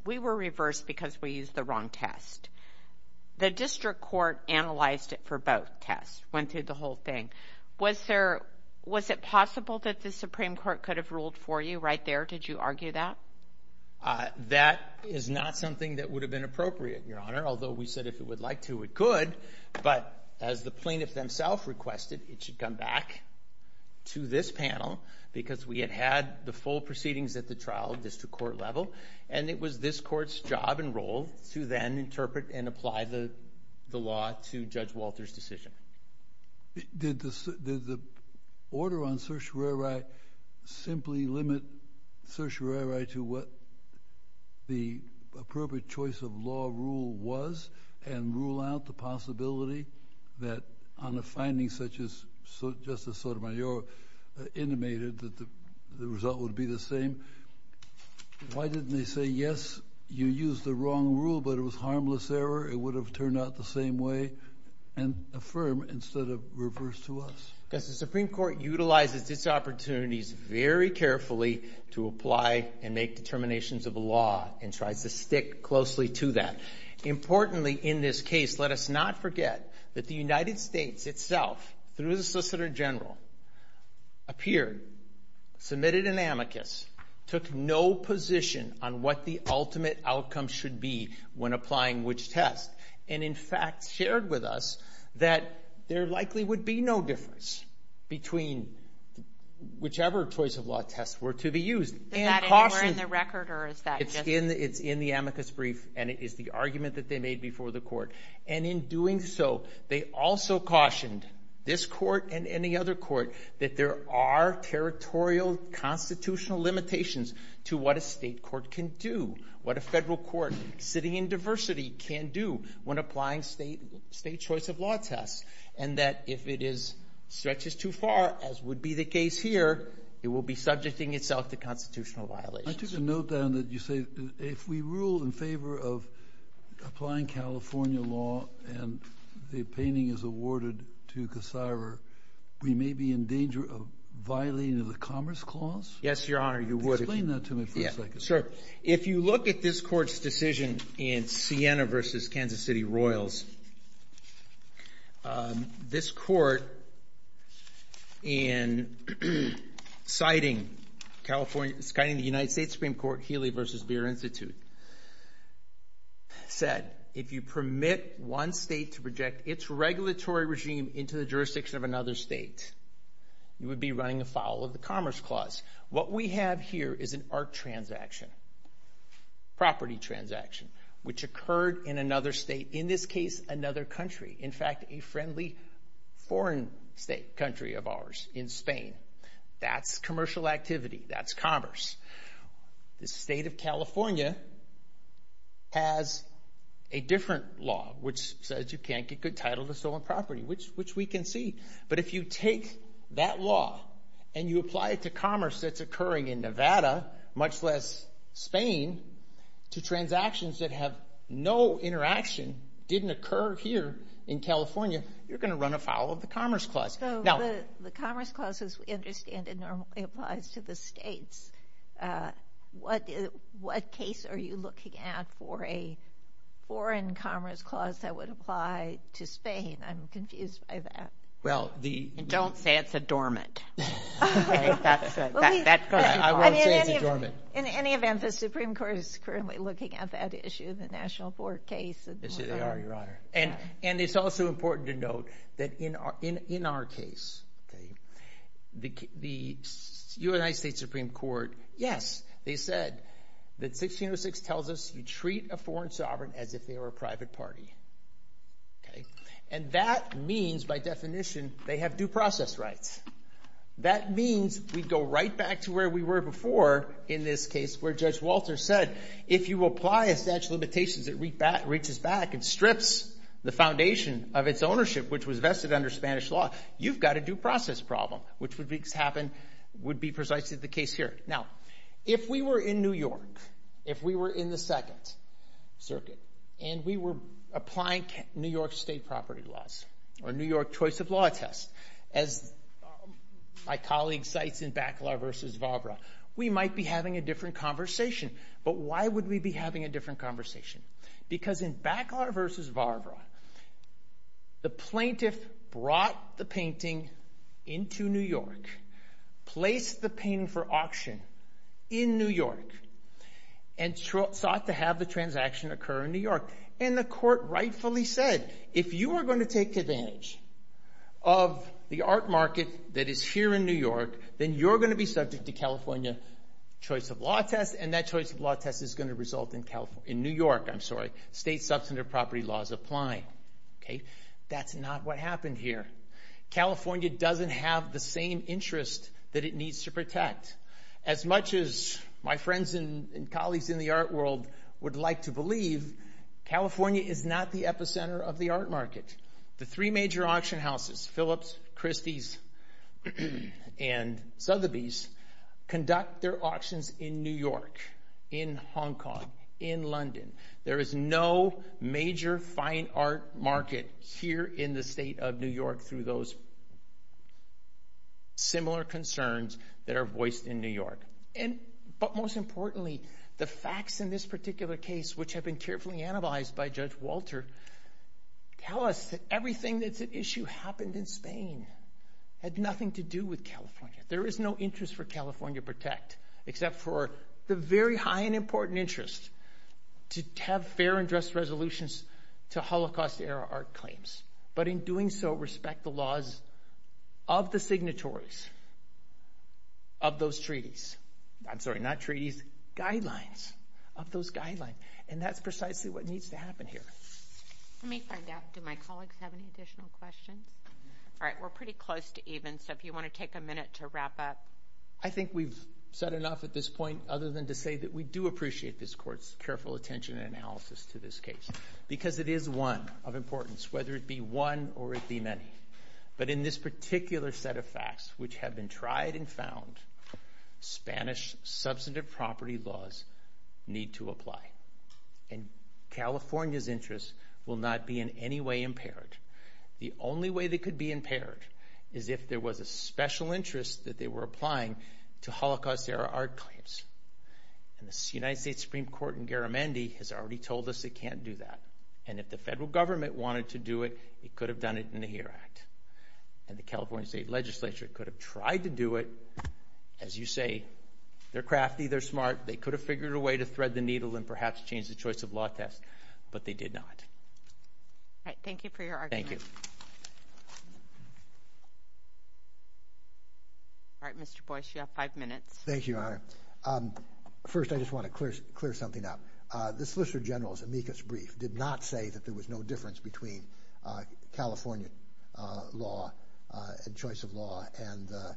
we were reversed because we used the wrong test, the district court analyzed it for both tests, went through the whole thing. Was it possible that the Supreme Court could have ruled for you right there? Did you argue that? That is not something that would have been appropriate, Your Honor, although we said if it would like to, it could, but as the plaintiff themselves requested, it should come back to this panel because we had had the full proceedings at the trial district court level, and it was this court's job and role to then interpret and apply the law to Judge Walter's decision. Did the order on certiorari simply limit certiorari to what the appropriate choice of law rule was and rule out the possibility that on a finding such as Justice Sotomayor intimated that the result would be the same? Why didn't they say, yes, you used the wrong rule, but it was harmless error? It would have turned out the same way, and affirm instead of reverse to us? The Supreme Court utilizes its opportunities very carefully to apply and make determinations of the law and tries to stick closely to that. Importantly in this case, let us not forget that the United States itself, through the Solicitor General, appeared, submitted an amicus, took no position on what the ultimate outcome should be when applying which test, and in fact shared with us that there likely would be no difference between whichever choice of law test were to be used. Is that anywhere in the record, or is that just? It's in the amicus brief, and it is the argument that they made before the court. And in doing so, they also cautioned this court and any other court that there are territorial constitutional limitations to what a state court can do, what a federal court sitting in diversity can do when applying state choice of law tests, and that if it stretches too far, as would be the case here, it will be subjecting itself to constitutional violations. I took a note down that you say if we rule in favor of applying California law and the opinion is awarded to Cassara, we may be in danger of violating the Commerce Clause? Yes, Your Honor. Explain that to me for a second. If you look at this court's decision in Siena v. Kansas City Royals, this court in citing the United States Supreme Court Healy v. Deere Institute said, if you permit one state to project its regulatory regime into the jurisdiction of another state, you would be running afoul of the Commerce Clause. What we have here is an ARC transaction, property transaction, which occurred in another state, in this case, another country. In fact, a friendly foreign country of ours in Spain. That's commercial activity. That's commerce. The state of California has a different law, which says you can't give good title to stolen property, which we can see. But if you take that law and you apply it to commerce that's occurring in Nevada, much less Spain, to transactions that have no interaction, didn't occur here in California, you're going to run afoul of the Commerce Clause. So the Commerce Clause is understandably applied to the states. What case are you looking at for a foreign Commerce Clause that would apply to Spain? I'm confused by that. Don't say it's a dormant. In any event, the Supreme Court is currently looking at that issue, the National Court case. And it's also important to note that in our case, the United States Supreme Court, yes, they said that 1606 tells us you treat a foreign sovereign as if they were a private party. And that means, by definition, they have due process rights. That means we go right back to where we were before in this case where Judge Walter said, if you apply a statute of limitations that reaches back and strips the foundation of its ownership, which was vested under Spanish law, you've got a due process problem, which would be precisely the case here. Now, if we were in New York, if we were in the Second Circuit, and we were applying New York State property laws or New York Choice of Law test, as my colleague cites in Baclar v. Barbera, we might be having a different conversation. But why would we be having a different conversation? Because in Baclar v. Barbera, the plaintiff brought the painting into New York, placed the painting for auction in New York, and sought to have the transaction occur in New York. And the court rightfully said, if you are going to take advantage of the art market that is here in New York, then you're going to be subject to California Choice of Law test, and that Choice of Law test is going to result in New York State substantive property laws applying. That's not what happened here. California doesn't have the same interest that it needs to protect. As much as my friends and colleagues in the art world would like to believe, California is not the epicenter of the art market. The three major auction houses, Phillips, Christie's, and Sotheby's, conduct their auctions in New York, in Hong Kong, in London. There is no major fine art market here in the state of New York through those similar concerns that are voiced in New York. But most importantly, the facts in this particular case, which have been carefully analyzed by Judge Walter, tell us that everything that's at issue happened in Spain. There is no interest for California Protect, except for the very high and important interest to have fair and just resolutions to Holocaust-era art claims. But in doing so, respect the laws of the signatories of those treaties. I'm sorry, not treaties, guidelines, of those guidelines. And that's precisely what needs to happen here. Let me find out, do my colleagues have any additional questions? All right, we're pretty close to even, so if you want to take a minute to wrap up. I think we've said enough at this point, other than to say that we do appreciate this court's careful attention and analysis to this case, because it is one of importance, whether it be one or it be many. But in this particular set of facts, which have been tried and found, Spanish substantive property laws need to apply. And California's interests will not be in any way impaired. The only way they could be impaired is if there was a special interest that they were applying to Holocaust-era art claims. And the United States Supreme Court in Garamendi has already told us it can't do that. And if the federal government wanted to do it, it could have done it in the HERA Act. And the California State Legislature could have tried to do it. As you say, they're crafty, they're smart, they could have figured a way to thread the needle and perhaps change the choice of law test, but they did not. Thank you for your argument. Thank you. All right, Mr. Boyce, you have five minutes. Thank you, Your Honor. First, I just want to clear something up. The Solicitor General's amicus brief did not say that there was no difference between California law and choice of law and the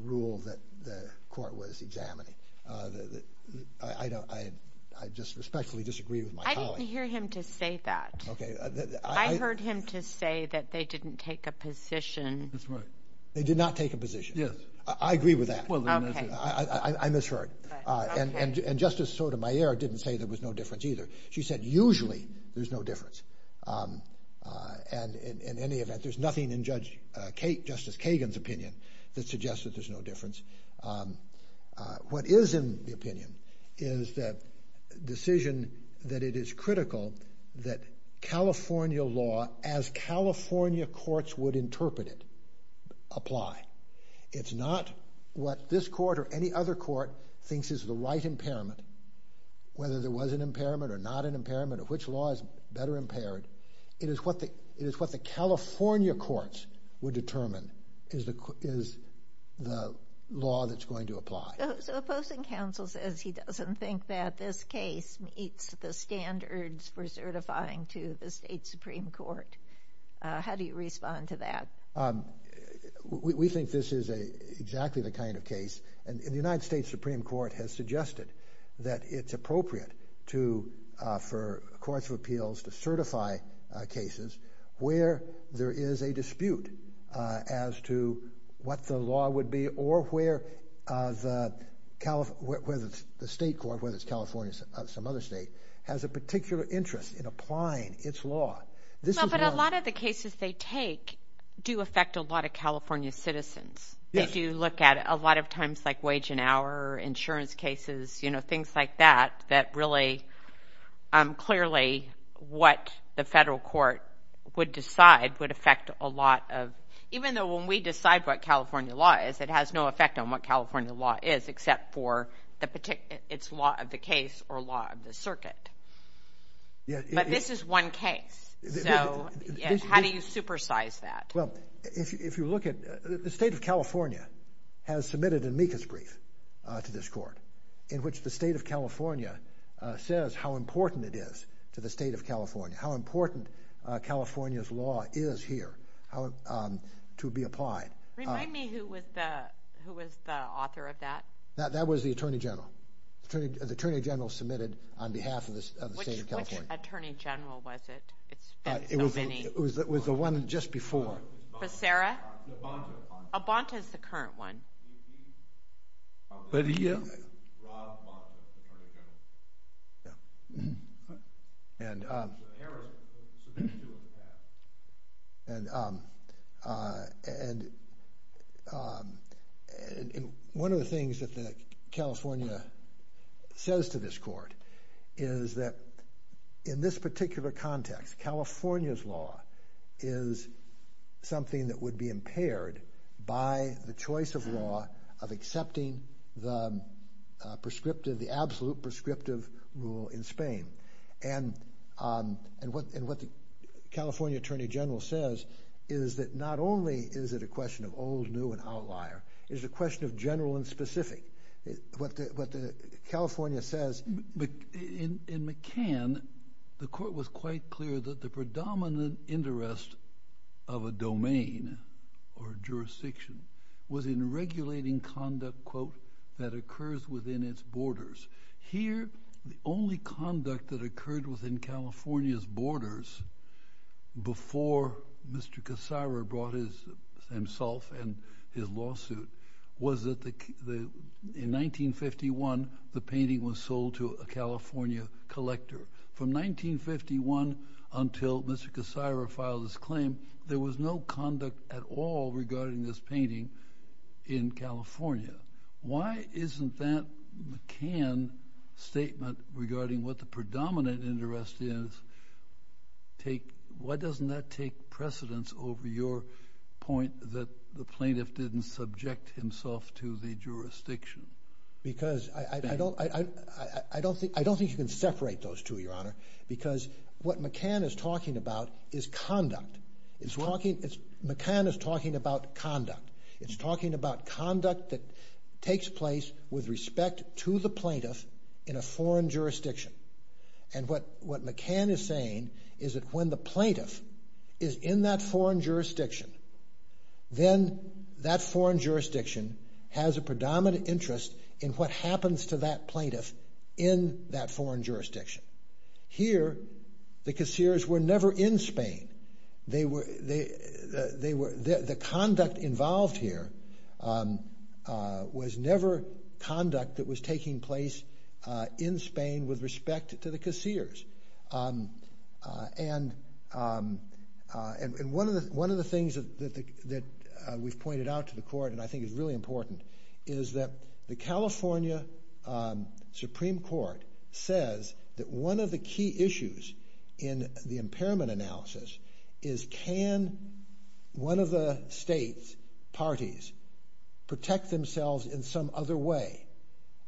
rule that the court was examining. I just respectfully disagree with my colleague. I didn't hear him to say that. Okay. I heard him to say that they didn't take a position. That's right. They did not take a position. Yes. I agree with that. Okay. I misheard. And Justice Sotomayor didn't say there was no difference either. She said usually there's no difference. And in any event, there's nothing in Justice Kagan's opinion that suggests that there's no difference. What is in the opinion is that decision that it is critical that California law, as California courts would interpret it, apply. It's not what this court or any other court thinks is the right impairment, whether there was an impairment or not an impairment, which law is better impaired. It is what the California courts would determine is the law that's going to apply. The opposing counsel says he doesn't think that this case meets the standards for certifying to the state Supreme Court. How do you respond to that? We think this is exactly the kind of case. And the United States Supreme Court has suggested that it's appropriate for courts of appeals to certify cases where there is a dispute as to what the law would be or where the state court, whether it's California or some other state, has a particular interest in applying its law. But a lot of the cases they take do affect a lot of California citizens. If you look at it, a lot of times like wage and hour, insurance cases, things like that, that really clearly what the federal court would decide would affect a lot of, even though when we decide what California law is, it has no effect on what California law is except for its law of the case or law of the circuit. But this is one case. So how do you supersize that? Well, if you look at, the state of California has submitted an amicus brief to this court in which the state of California says how important it is to the state of California, how important California's law is here to be applied. Remind me who was the author of that? That was the attorney general. The attorney general submitted on behalf of the state of California. Which attorney general was it? It was the one just before. So Sarah? Albanca is the current one. Rob Albanca is the current attorney general. Yeah. And one of the things that California says to this court is that in this particular context, California's law is something that would be impaired by the choice of law of accepting the prescriptive, the absolute prescriptive rule in Spain. And what the California attorney general says is that not only is it a question of owes new and outlier, it's a question of general and specific. What California says, in McCann, the court was quite clear that the predominant interest of a domain or jurisdiction was in regulating conduct, quote, that occurs within its borders. Here, the only conduct that occurred within California's borders before Mr. Cassara brought himself and his lawsuit was that in 1951, the painting was sold to a California collector. From 1951 until Mr. Cassara filed his claim, there was no conduct at all regarding this painting in California. Why isn't that McCann statement regarding what the predominant interest is, why doesn't that take precedence over your point that the plaintiff didn't subject himself to the jurisdiction? I don't think you can separate those two, Your Honor, because what McCann is talking about is conduct. McCann is talking about conduct. It's talking about conduct that takes place with respect to the plaintiff in a foreign jurisdiction. And what McCann is saying is that when the plaintiff is in that foreign jurisdiction, then that foreign jurisdiction has a predominant interest in what happens to that plaintiff in that foreign jurisdiction. Here, the casseers were never in Spain. The conduct involved here was never conduct that was taking place in Spain with respect to the casseers. And one of the things that we've pointed out to the court and I think is really important is that the California Supreme Court says that one of the key issues in the impairment analysis is can one of the states' parties protect themselves in some other way?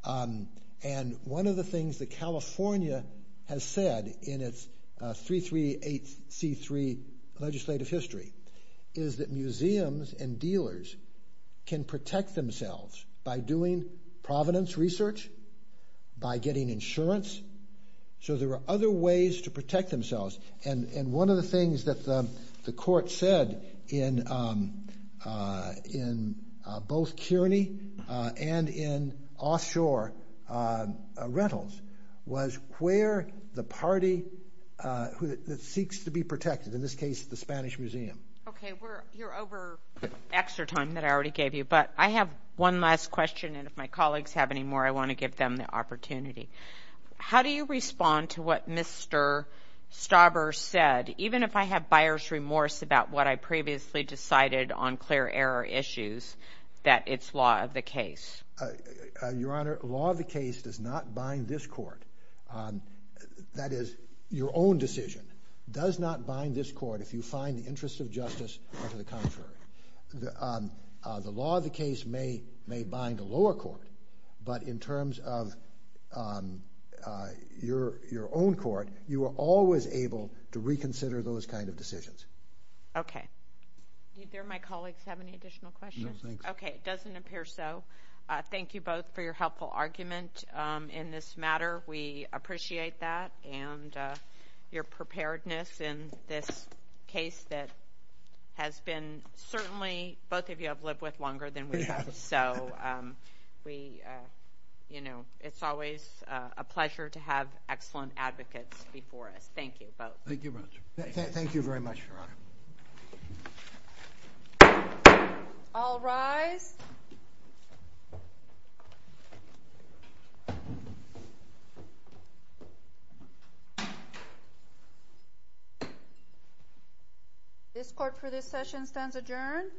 And one of the things that California has said in its 338C3 legislative history is that museums and dealers can protect themselves by doing provenance research, by getting insurance. So there are other ways to protect themselves. And one of the things that the court said in both Kearney and in offshore rentals was where the party that seeks to be protected, in this case the Spanish Museum. Okay, we're over extra time that I already gave you, but I have one last question and if my colleagues have any more, I want to give them the opportunity. How do you respond to what Mr. Stauber said, even if I have buyer's remorse about what I previously decided on clear error issues, that it's law of the case? Your Honor, law of the case does not bind this court. That is, your own decision does not bind this court if you find the interest of justice or to the contrary. The law of the case may bind a lower court, but in terms of your own court, you are always able to reconsider those kind of decisions. Okay. Do my colleagues have any additional questions? No, thanks. Okay, it doesn't appear so. Thank you both for your helpful argument in this matter. We appreciate that and your preparedness in this case that has been certainly both of you have lived with longer than we have. So we, you know, it's always a pleasure to have excellent advocates before us. Thank you both. Thank you very much, Your Honor. All rise. This court for this session stands adjourned.